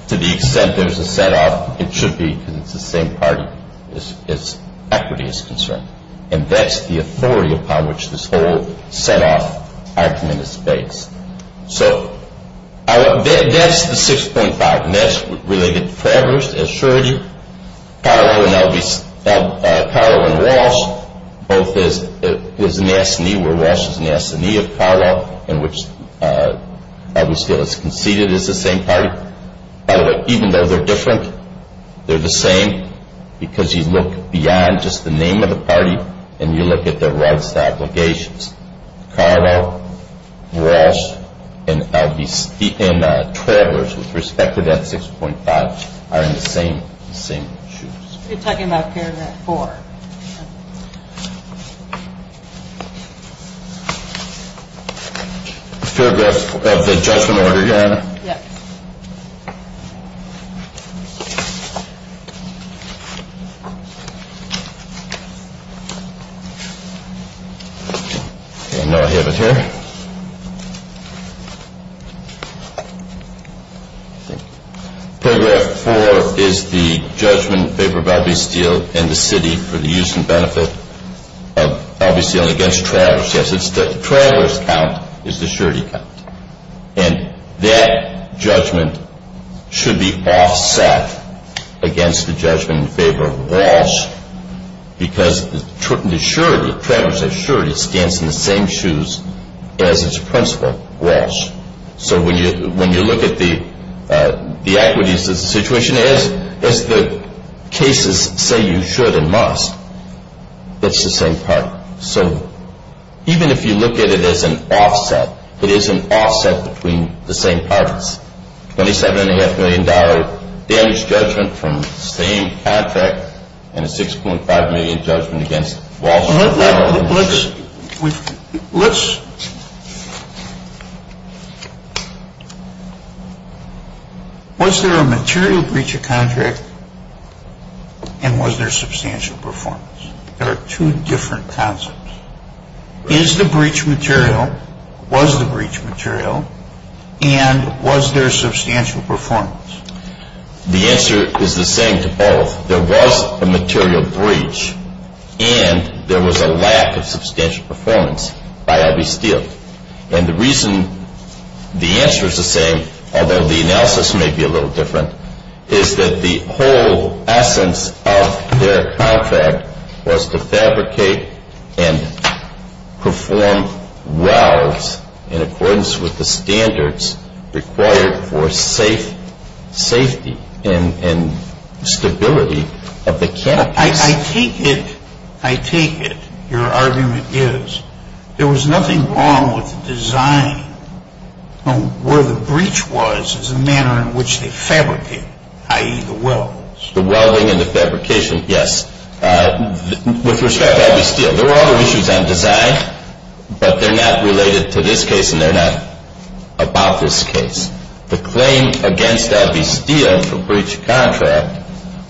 to the extent there's a set-up, it should be the same party as equity is concerned. And that's the authority upon which this whole set-up is based. So that's the 6.5. And that's related to Travers as surrogate. Carlo and Walsh, both his master and he were Walsh's master and he was Carlo, and which obviously was conceded as the same party. Even though they're different, they're the same because you look beyond just the name of the party and you look at their rights to obligations. Carlo, Walsh, and Travers, with respect to that 6.5, are the same issues. He's talking about paragraph four. Paragraph four is the judgment they provide to the steel in the city for the use of the property. Obviously, that's against Travers. Yes, the Travers count is the surrogate count. And that judgment should be offset against the judgment in favor of Walsh because Travers' surrogate stands in the same shoes as its principal, Walsh. So when you look at the actual situation, as the case is saying you should and must, it's the same party. So even if you look at it as an offset, it is an offset between the same parties. Twenty-seven and a half million dollars damage judgment from staying at that and a 6.5 million judgment against Walsh and Travers. Now, let's... Was there a material breach of contract and was there substantial performance? There are two different concepts. Is the breach material? Was the breach material? And was there substantial performance? The answer is the same to both. There was a material breach and there was a lack of substantial performance by LV Steel. And the reason the answer is the same, although the analysis may be a little different, is that the whole essence of their contract was to fabricate and perform welds in accordance with the standards required for safety and stability of the camp. I take it, I take it, your argument is there was nothing wrong with the design. Where the breach was is the manner in which they fabricated it, i.e. the welding. The welding and the fabrication, yes. With respect to LV Steel, there were other issues on design, but they're not related to this case and they're not about this case. The claim against LV Steel for breach of contract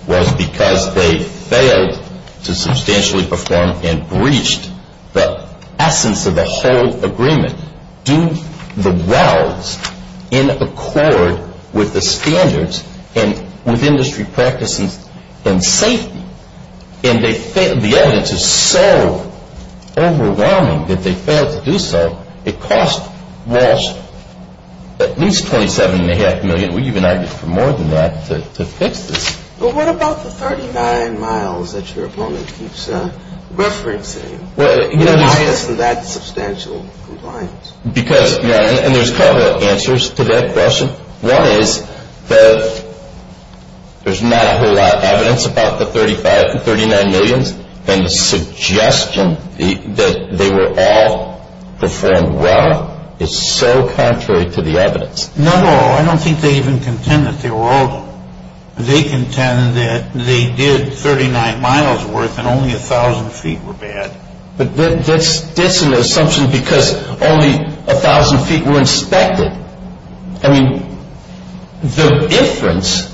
was because they failed to substantially perform and breached the essence of the whole agreement, the welds in accord with the standards and with industry practices and safety. And the evidence is so overwhelming that they failed to do so. It cost Walsh at least $27.5 million. We even argued for more than that to fix this. But what about the 39 miles that your opponent keeps referencing? Why isn't that substantial compliance? Because, you know, and there's a couple of answers to that question. One is that there's not a whole lot of evidence about the 35 to 39 million, and the suggestion that they were all performed well is so contrary to the evidence. No, no, I don't think they even contend that they were all there. They contend that they did 39 miles worth and only 1,000 feet were bad. But that's an assumption because only 1,000 feet were inspected. I mean, the difference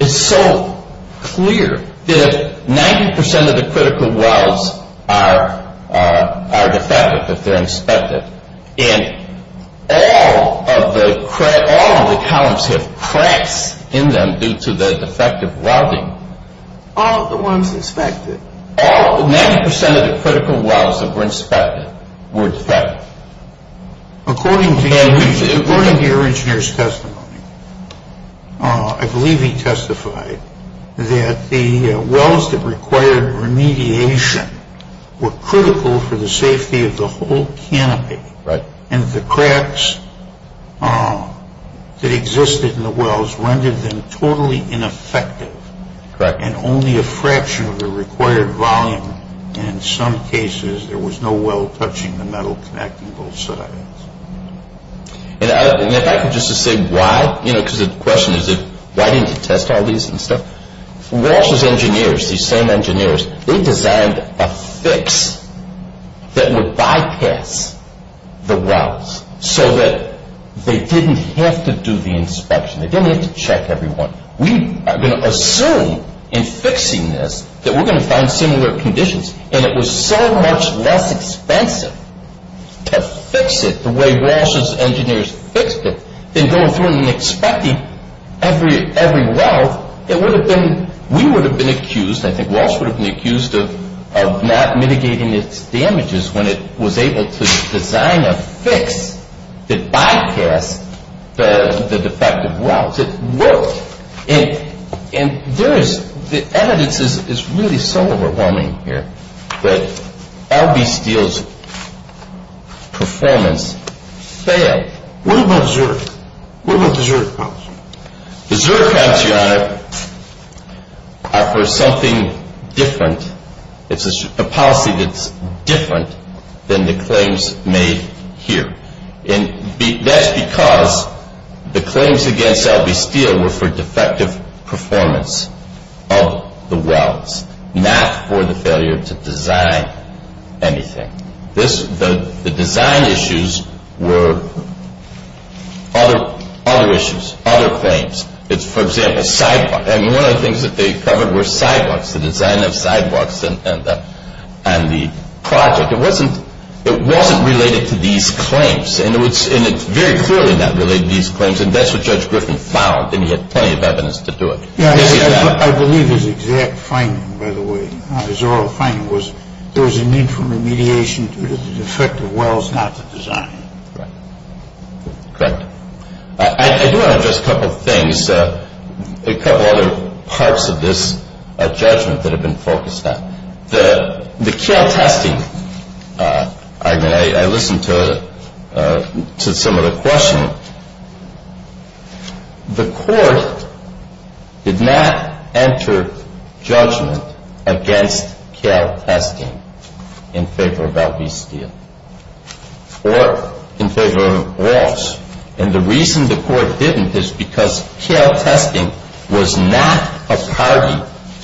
is so clear that 90% of the critical welds are defective, and all of the columns have cracks in them due to the defective welding. All of the ones inspected? All, 90% of the critical welds that were inspected were defective. According to one of the originators' testimonies, I believe he testified that the welds that required remediation were critical for the safety of the whole canopy, and the cracks that existed in the welds rendered them totally ineffective, and only a fraction of the required volume, and in some cases there was no weld touching the metal connecting both sides. And if I could just explain why, you know, because the question is why didn't they test all these and stuff. Walsh's engineers, these same engineers, they designed a fix that would bypass the welds so that they didn't have to do the inspection, they didn't have to check everyone. We are going to assume in fixing this that we're going to find similar conditions, and it was so much less expensive to fix it the way Walsh's engineers fixed it than going through and inspecting every weld, we would have been accused, I think Walsh would have been accused of not mitigating its damages when it was able to design a fix that bypassed the defective welds. It worked, and the evidence is really so overwhelming here that L.B. Steele's performance failed. What about Zurich? What about Zurich? The Zurich auctioneer offers something different. It's a policy that's different than the claims made here, and that's because the claims against L.B. Steele were for defective performance of the welds, not for the failure to design anything. The design issues were other issues, other things. For example, sidewalks. One of the things that they covered were sidewalks, the design of sidewalks and the project. It wasn't related to these claims, and it's very clearly not related to these claims, and that's what Judge Griffin found, and he had plenty of evidence to do it. I believe his exact finding, by the way, his oral finding, was there was a need for remediation to the defective welds, not the design. Right. I do want to address a couple of things, a couple of other parts of this judgment that have been focused on. The Kailh testing, I listened to some of the questions. The court did not enter judgment against Kailh testing in favor of L.B. Steele or in favor of welds, and the reason the court didn't is because Kailh testing was not a party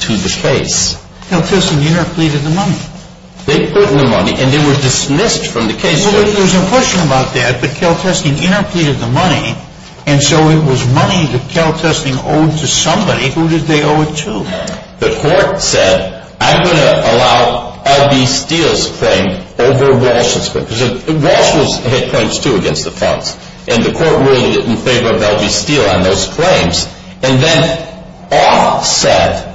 to the case. Kailh testing interpleaded the money. They put in the money, and they were dismissed from the case. Well, there was a question about that, that Kailh testing interpleaded the money, and so it was money that Kailh testing owed to somebody who did they owe it to. The court said, I'm going to allow L.B. Steele's claim over Walsh's, because Walsh had claims too against the county, and the court really didn't favor L.B. Steele on those claims, and then all said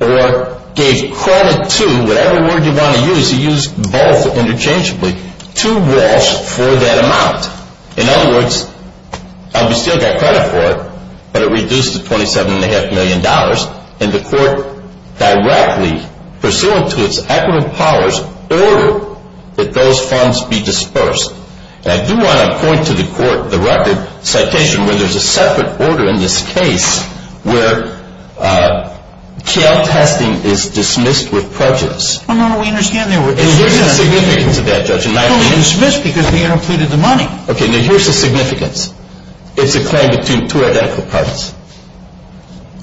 or gave credit to, whatever word you want to use, you use both interchangeably, to Walsh for that amount. In other words, and we still got credit for it, but it reduced to $27.5 million, and the court directly pursuant to its acrimony powers ordered that those funds be dispersed. And I do want to point to the court, the record, citation, where there's a separate order in this case where Kailh testing is dismissed with prejudice. Well, no, we understand that. It was a significance of that judgment. It was dismissed because they interpleaded the money. Okay, and there was a significance. It's a claim between two identical parties.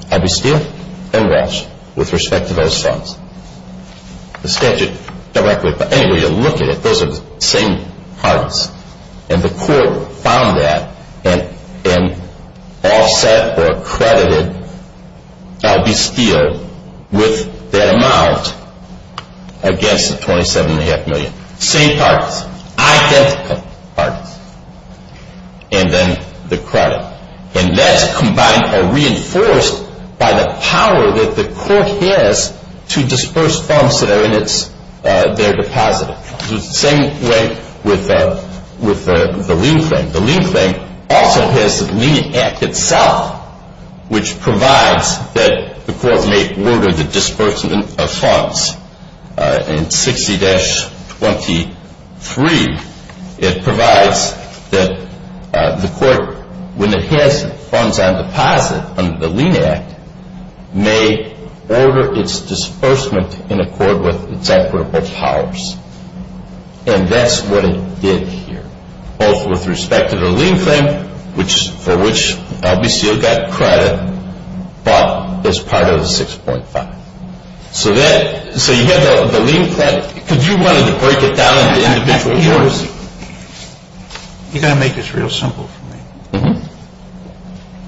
L.B. Steele and Walsh with respect to those funds. The statute directly, but anyway, you look at it, those are the same parties, and the court found that and all said or credited L.B. Steele with that amount against the $27.5 million. Same parties. I said the parties, and then the credit, and that combined or reinforced by the power that the court has to disperse funds that are in their deposit. It's the same way with the lien claim. The lien claim also has the lien act itself, which provides that the court may order the disbursement of funds. In 60-23, it provides that the court, when it has funds on deposit under the lien act, may order its disbursement in accord with its operable powers. And that's what it did here, both with respect to the lien claim, for which L.B. Steele got credit as part of the $6.5 million. So you have the lien claim. If you wanted to break it down into individual orders. You've got to make this real simple for me.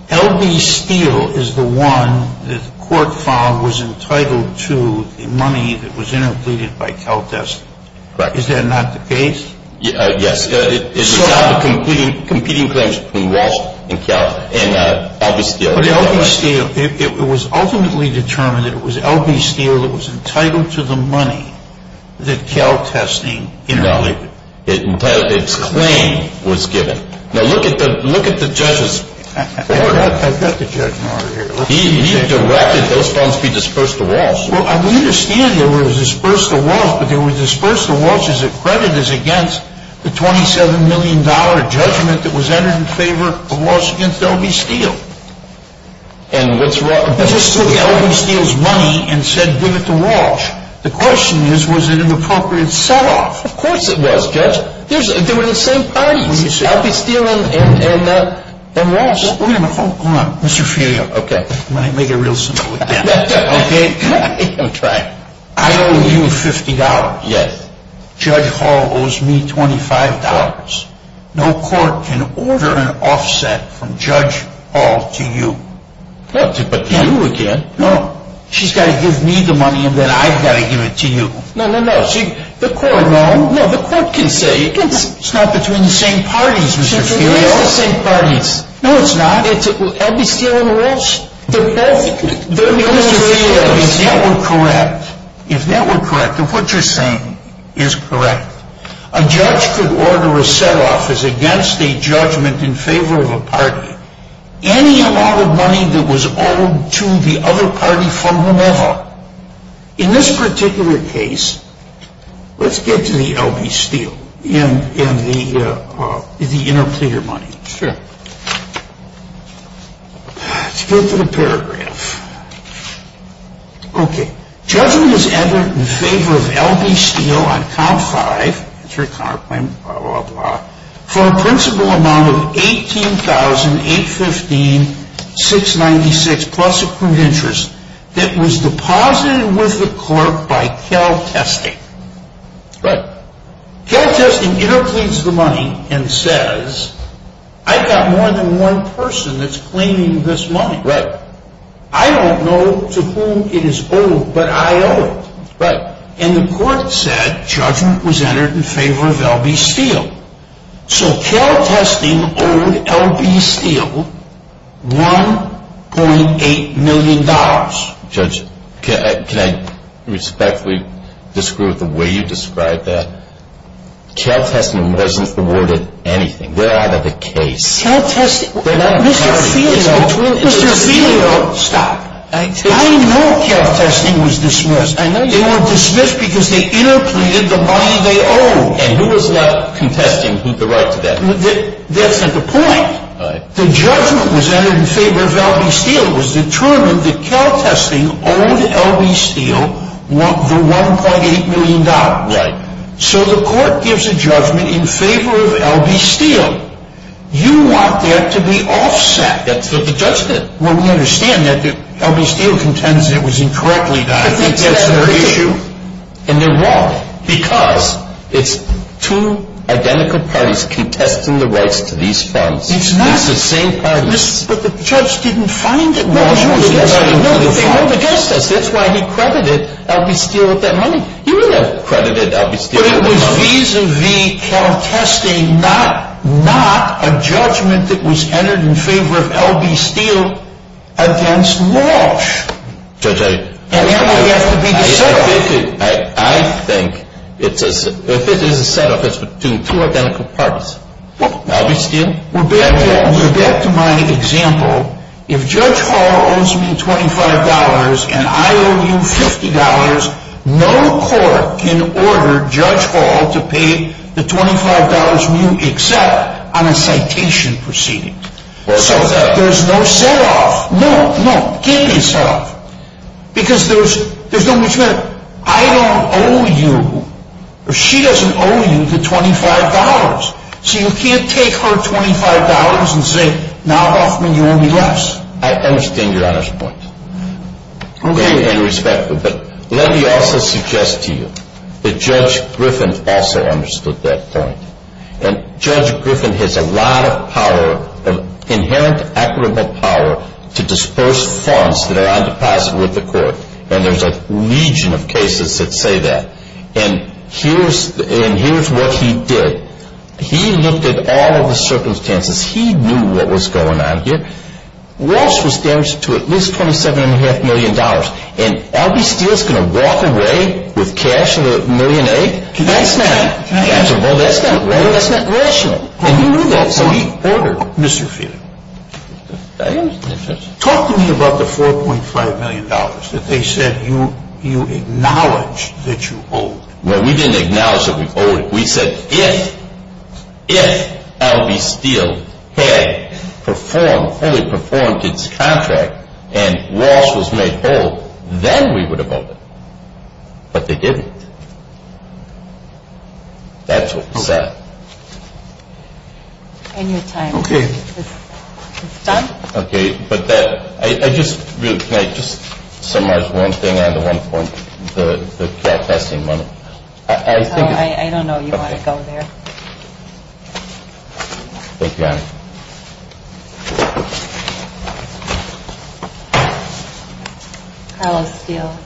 L.B. Steele is the one that the court found was entitled to the money that was interpreted by CalDES. Correct. Is that not the case? Yes. It's the competing claims between Walsh and Cal, and L.B. Steele. It was ultimately determined that it was L.B. Steele that was entitled to the money that CalDES was giving. Now look at the judgment. I've got the judgment on it. He had directed those funds to be disbursed to Walsh. Well, we understand that it was disbursed to Walsh, but it was disbursed to Walsh as a credit against the $27 million judgment that was entered in favor of Walsh v. L.B. Steele. And what's wrong with that? He took L.B. Steele's money and said, give it to Walsh. The question is, was it an appropriate setup? Of course it was, Judge. They were at the same time. L.B. Steele and Walsh. Wait a minute. Hold on. Mr. Shearer. Okay. Let me make it real simple. Okay? Okay. I owe you $50. Judge Hall owes me $25. No court can order an offset from Judge Hall to you. That's it, but to you again. No. She's got to give me the money and then I've got to give it to you. No, no, no. The court can say. It's not between the same parties, Mr. Shearer. It's not between the same parties. No, it's not. L.B. Steele and Walsh. They're perfectly— No, no, no. If that were correct, if that were correct, then what you're saying is correct. A judge could order a set-off as against a judgment in favor of a party. Any amount of money that was owed to the other party from whomever. In this particular case, let's get to the L.B. Steele in the interpreter money. Sure. Let's go to the paragraph. Okay. Judgment is entered in favor of L.B. Steele on count five, three, four, five, blah, blah, blah, for a principal amount of $18,815,696 plus a proof of interest that was deposited with the court by Cal Testing. Right. Cal Testing interprets the money and says, I've got more than one person that's claiming this money. Right. I don't know to whom it is owed, but I owe it. Right. And the court said judgment was entered in favor of L.B. Steele. So Cal Testing owed L.B. Steele $1.8 million. Judge, can I respectfully disagree with the way you described that? Cal Testing wasn't awarded anything. We're out of the case. Cal Testing— Mr. Filio— Mr. Filio— Stop. I know Cal Testing was dismissed. I know they weren't dismissed because they interpreted the money they owed. And who was left contesting the right to that money? That's not the point. Right. The judgment was entered in favor of L.B. Steele. It was determined that Cal Testing owed L.B. Steele the $1.8 million right. So the court gives a judgment in favor of L.B. Steele. You want that to be offset. That's what the judge did. Well, we understand that. L.B. Steele contends it was incorrectly done. Isn't that their issue? And they're wrong because it's two identical parties contesting the rights to these funds. It's not. At the same time— But the judge didn't find it wrong. No, he didn't find it wrong. No, the judge does. That's why he credited L.B. Steele with that money. He would have credited L.B. Steele with that money. But it was vis-a-vis Cal Testing, not a judgment that was entered in favor of L.B. Steele against Walsh. Judge, I— And it would have to be offset. I think it's a set-up. It's two identical parties. Well, that's in— to pay the $25 when you accept on a citation proceeding. Well, some of that— There's no set-up. No. No. Can't be set-up. Because there's no return. I don't owe you. She doesn't owe you the $25. So you can't take her $25 and say, now offer me only less. I understand your honest point. I'm very, very respectful. But let me also suggest to you that Judge Griffin also understood that point. And Judge Griffin has a lot of power, of inherent, accurate power, to disperse funds that are on deposit with the court. And there's a legion of cases that say that. And here's what he did. He looked at all of the circumstances. He knew what was going on here. Walsh was damaged to at least $27.5 million. And L.B. Steele's going to walk away with cash and a million eights? That's not— Cash and a million eights? Well, that's not rational. And he knew that. So he owed her, Mr. Fiedler. Talk to me about the $4.5 million that they said you acknowledged that you owed. Well, we didn't acknowledge that we owed it. We said if L.B. Steele had performed, fully performed its contract and Walsh was made whole, then we would have owed it. But they didn't. That's what he said. I need time. Okay. Okay. But that—I just—can I just summarize one thing on the one point? The cash tax and money. I think— I don't know if you want to go there. Okay. I love Steele.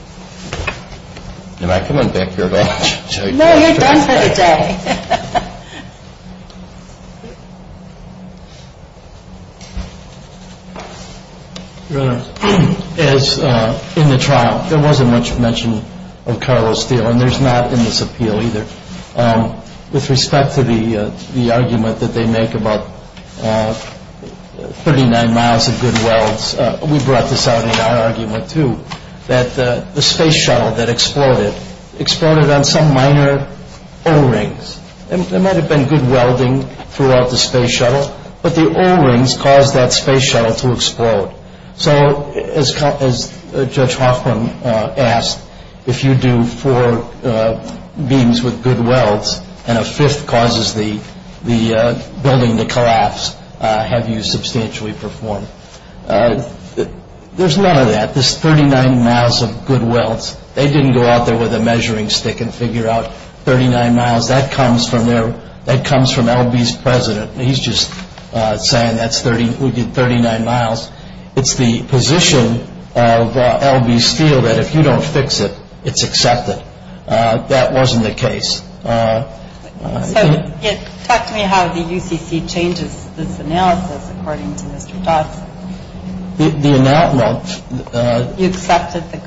Am I coming back here at all? No, you're done for the day. Your Honor, as in the trial, there wasn't much mention of Carlos Steele, and there's not in this appeal either. With respect to the argument that they make about 39 miles of good wells, we brought this out in our argument, too, that the space shuttle that exploded, exploded on some minor O-rings. There might have been good welding throughout the space shuttle, but the O-rings caused that space shuttle to explode. So as Judge Hoffman asked, if you do four beams with good welds and a fifth causes the building to collapse, have you substantially performed? There's none of that. There's 39 miles of good welds. They didn't go out there with a measuring stick and figure out 39 miles. That comes from L.B.'s president. He's just saying that would be 39 miles. It's the position of L.B. Steele that if you don't fix it, it's accepted. That wasn't the case. Yes. Talk to me how the UCC changes this analysis according to itself. The announcement. You've accepted the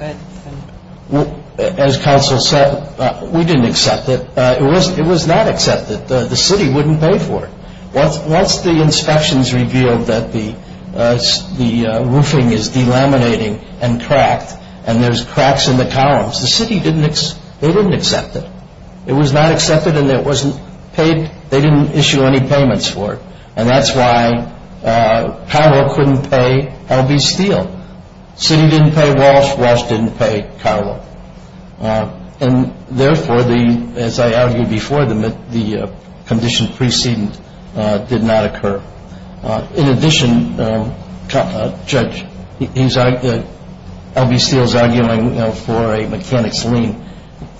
good. As counsel said, we didn't accept it. It was not accepted. The city wouldn't pay for it. Once the inspections revealed that the roofing is delaminating and cracked, and there's cracks in the columns, the city didn't accept it. It was not accepted and it wasn't paid. They didn't issue any payments for it. And that's why Carver couldn't pay L.B. Steele. City didn't pay Walsh. Walsh didn't pay Carver. And therefore, as I argued before, the condition preceded did not occur. In addition, Judge, L.B. Steele is arguing for a mechanic's lien.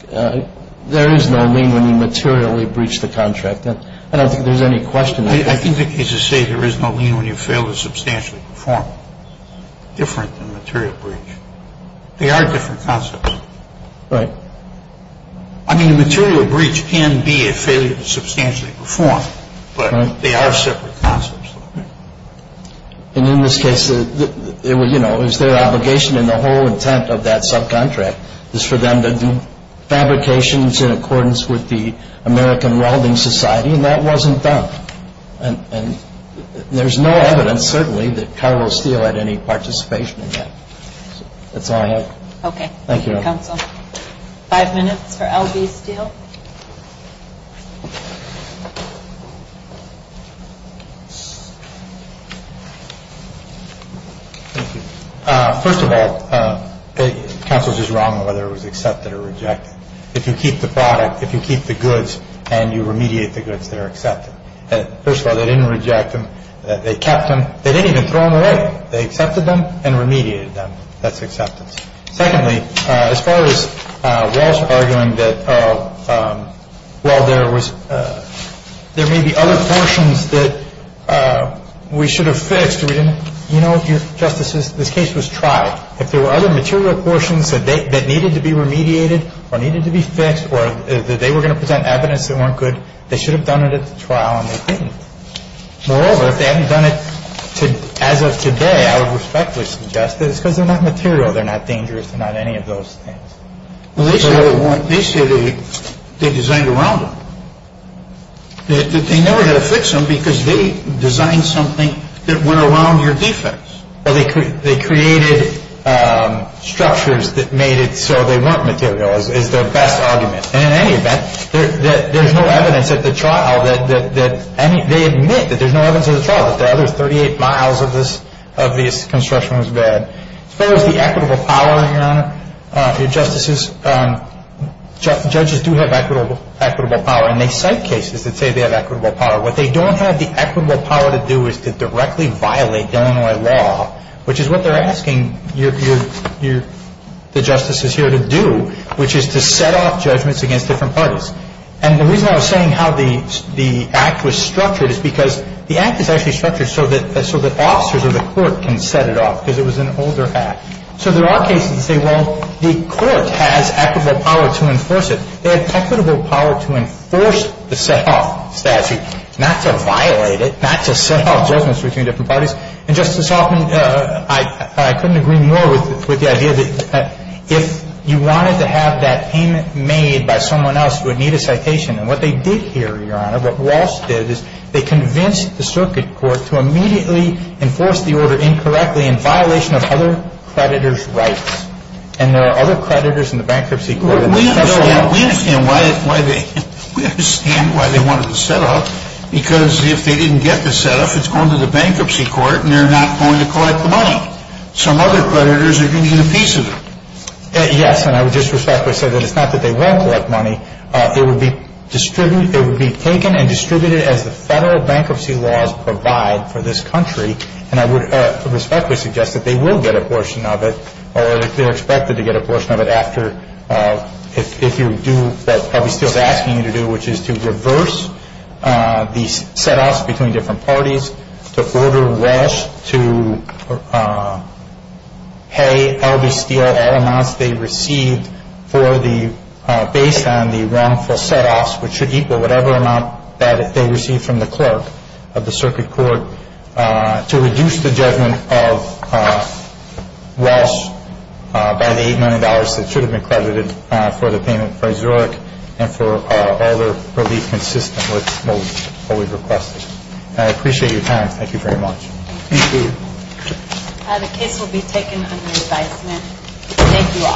There is no lien when you materially breach the contract. I don't think there's any question there. I think the case is safe. There is no lien when you fail to substantially perform it. Different than material breach. They are different concepts. Right. I mean, material breach can be a failure to substantially perform, but they are separate concepts. And in this case, it was their obligation and the whole intent of that subcontract is for them to do fabrications in accordance with the American Railroading Society, and that wasn't done. And there's no evidence, certainly, that Carver or Steele had any participation in that. That's all I have. Okay. Thank you, counsel. Five minutes for L.B. Steele. Thank you. First of all, counsel's is wrong whether it was accepted or rejected. If you keep the product, if you keep the goods, and you remediate the goods, they're accepted. First of all, they didn't reject them. They kept them. They didn't even throw them away. They accepted them and remediated them. That's accepted. Secondly, as far as Walsh arguing that, well, there may be other functions that we should have fixed. You know, Justice, the case was tried. If there were other material portions that needed to be remediated or needed to be fixed or that they were going to present evidence that weren't good, they should have done it at the trial and they didn't. Moreover, if they hadn't done it, as of today, I would respectfully suggest that it's because they're not material. They're not dangerous. They're not any of those things. They say they designed it wrong. They're never going to fix them because they designed something that went along their defense. They created structures that made it so they weren't material. It's a bad argument. And in any event, there's no evidence at the trial that they admit that there's no evidence at the trial that the other 38 miles of the construction was bad. As far as the equitable power, Your Honor, your justices, judges do have equitable power, and they cite cases that say they have equitable power. What they don't have the equitable power to do is to directly violate Illinois law, which is what they're asking the justices here to do, which is to set off judgments against different parties. And the reason I was saying how the act was structured is because the act is actually structured so that officers of the court can set it off because it was an older act. So there are cases that say, well, the court has equitable power to enforce it. They have equitable power to enforce the set-off statute, not to violate it, not to set off judgments between different parties. And Justice Hoffman, I couldn't agree more with the idea that if you wanted to have that payment made by someone else, you would need a citation. And what they did here, Your Honor, what Walsh did is they convinced the circuit court to immediately enforce the order incorrectly in violation of other creditors' rights. And there are other creditors in the bankruptcy court. We understand why they wanted the set-off, because if they didn't get the set-off, it's going to the bankruptcy court, and they're not going to collect the money. Some other creditors are going to get a piece of it. Yes, and I would just respectfully say that it's not that they won't collect money. It would be taken and distributed as the federal bankruptcy laws provide for this country, and I would respectfully suggest that they will get a portion of it, or they're expected to get a portion of it after, if you do what the public is asking you to do, which is to reverse the set-offs between different parties. The order was to pay RBCL all amounts they received based on the wrongful set-offs, which should equal whatever amount that they received from the clerk of the circuit court, to reduce the judgment of Walsh by the $8 million that should have been credited for the payment for Zurich and for all the consistent work that we've requested. I appreciate your time. Thank you very much. Thank you. The case will be taken under revisement. Thank you all.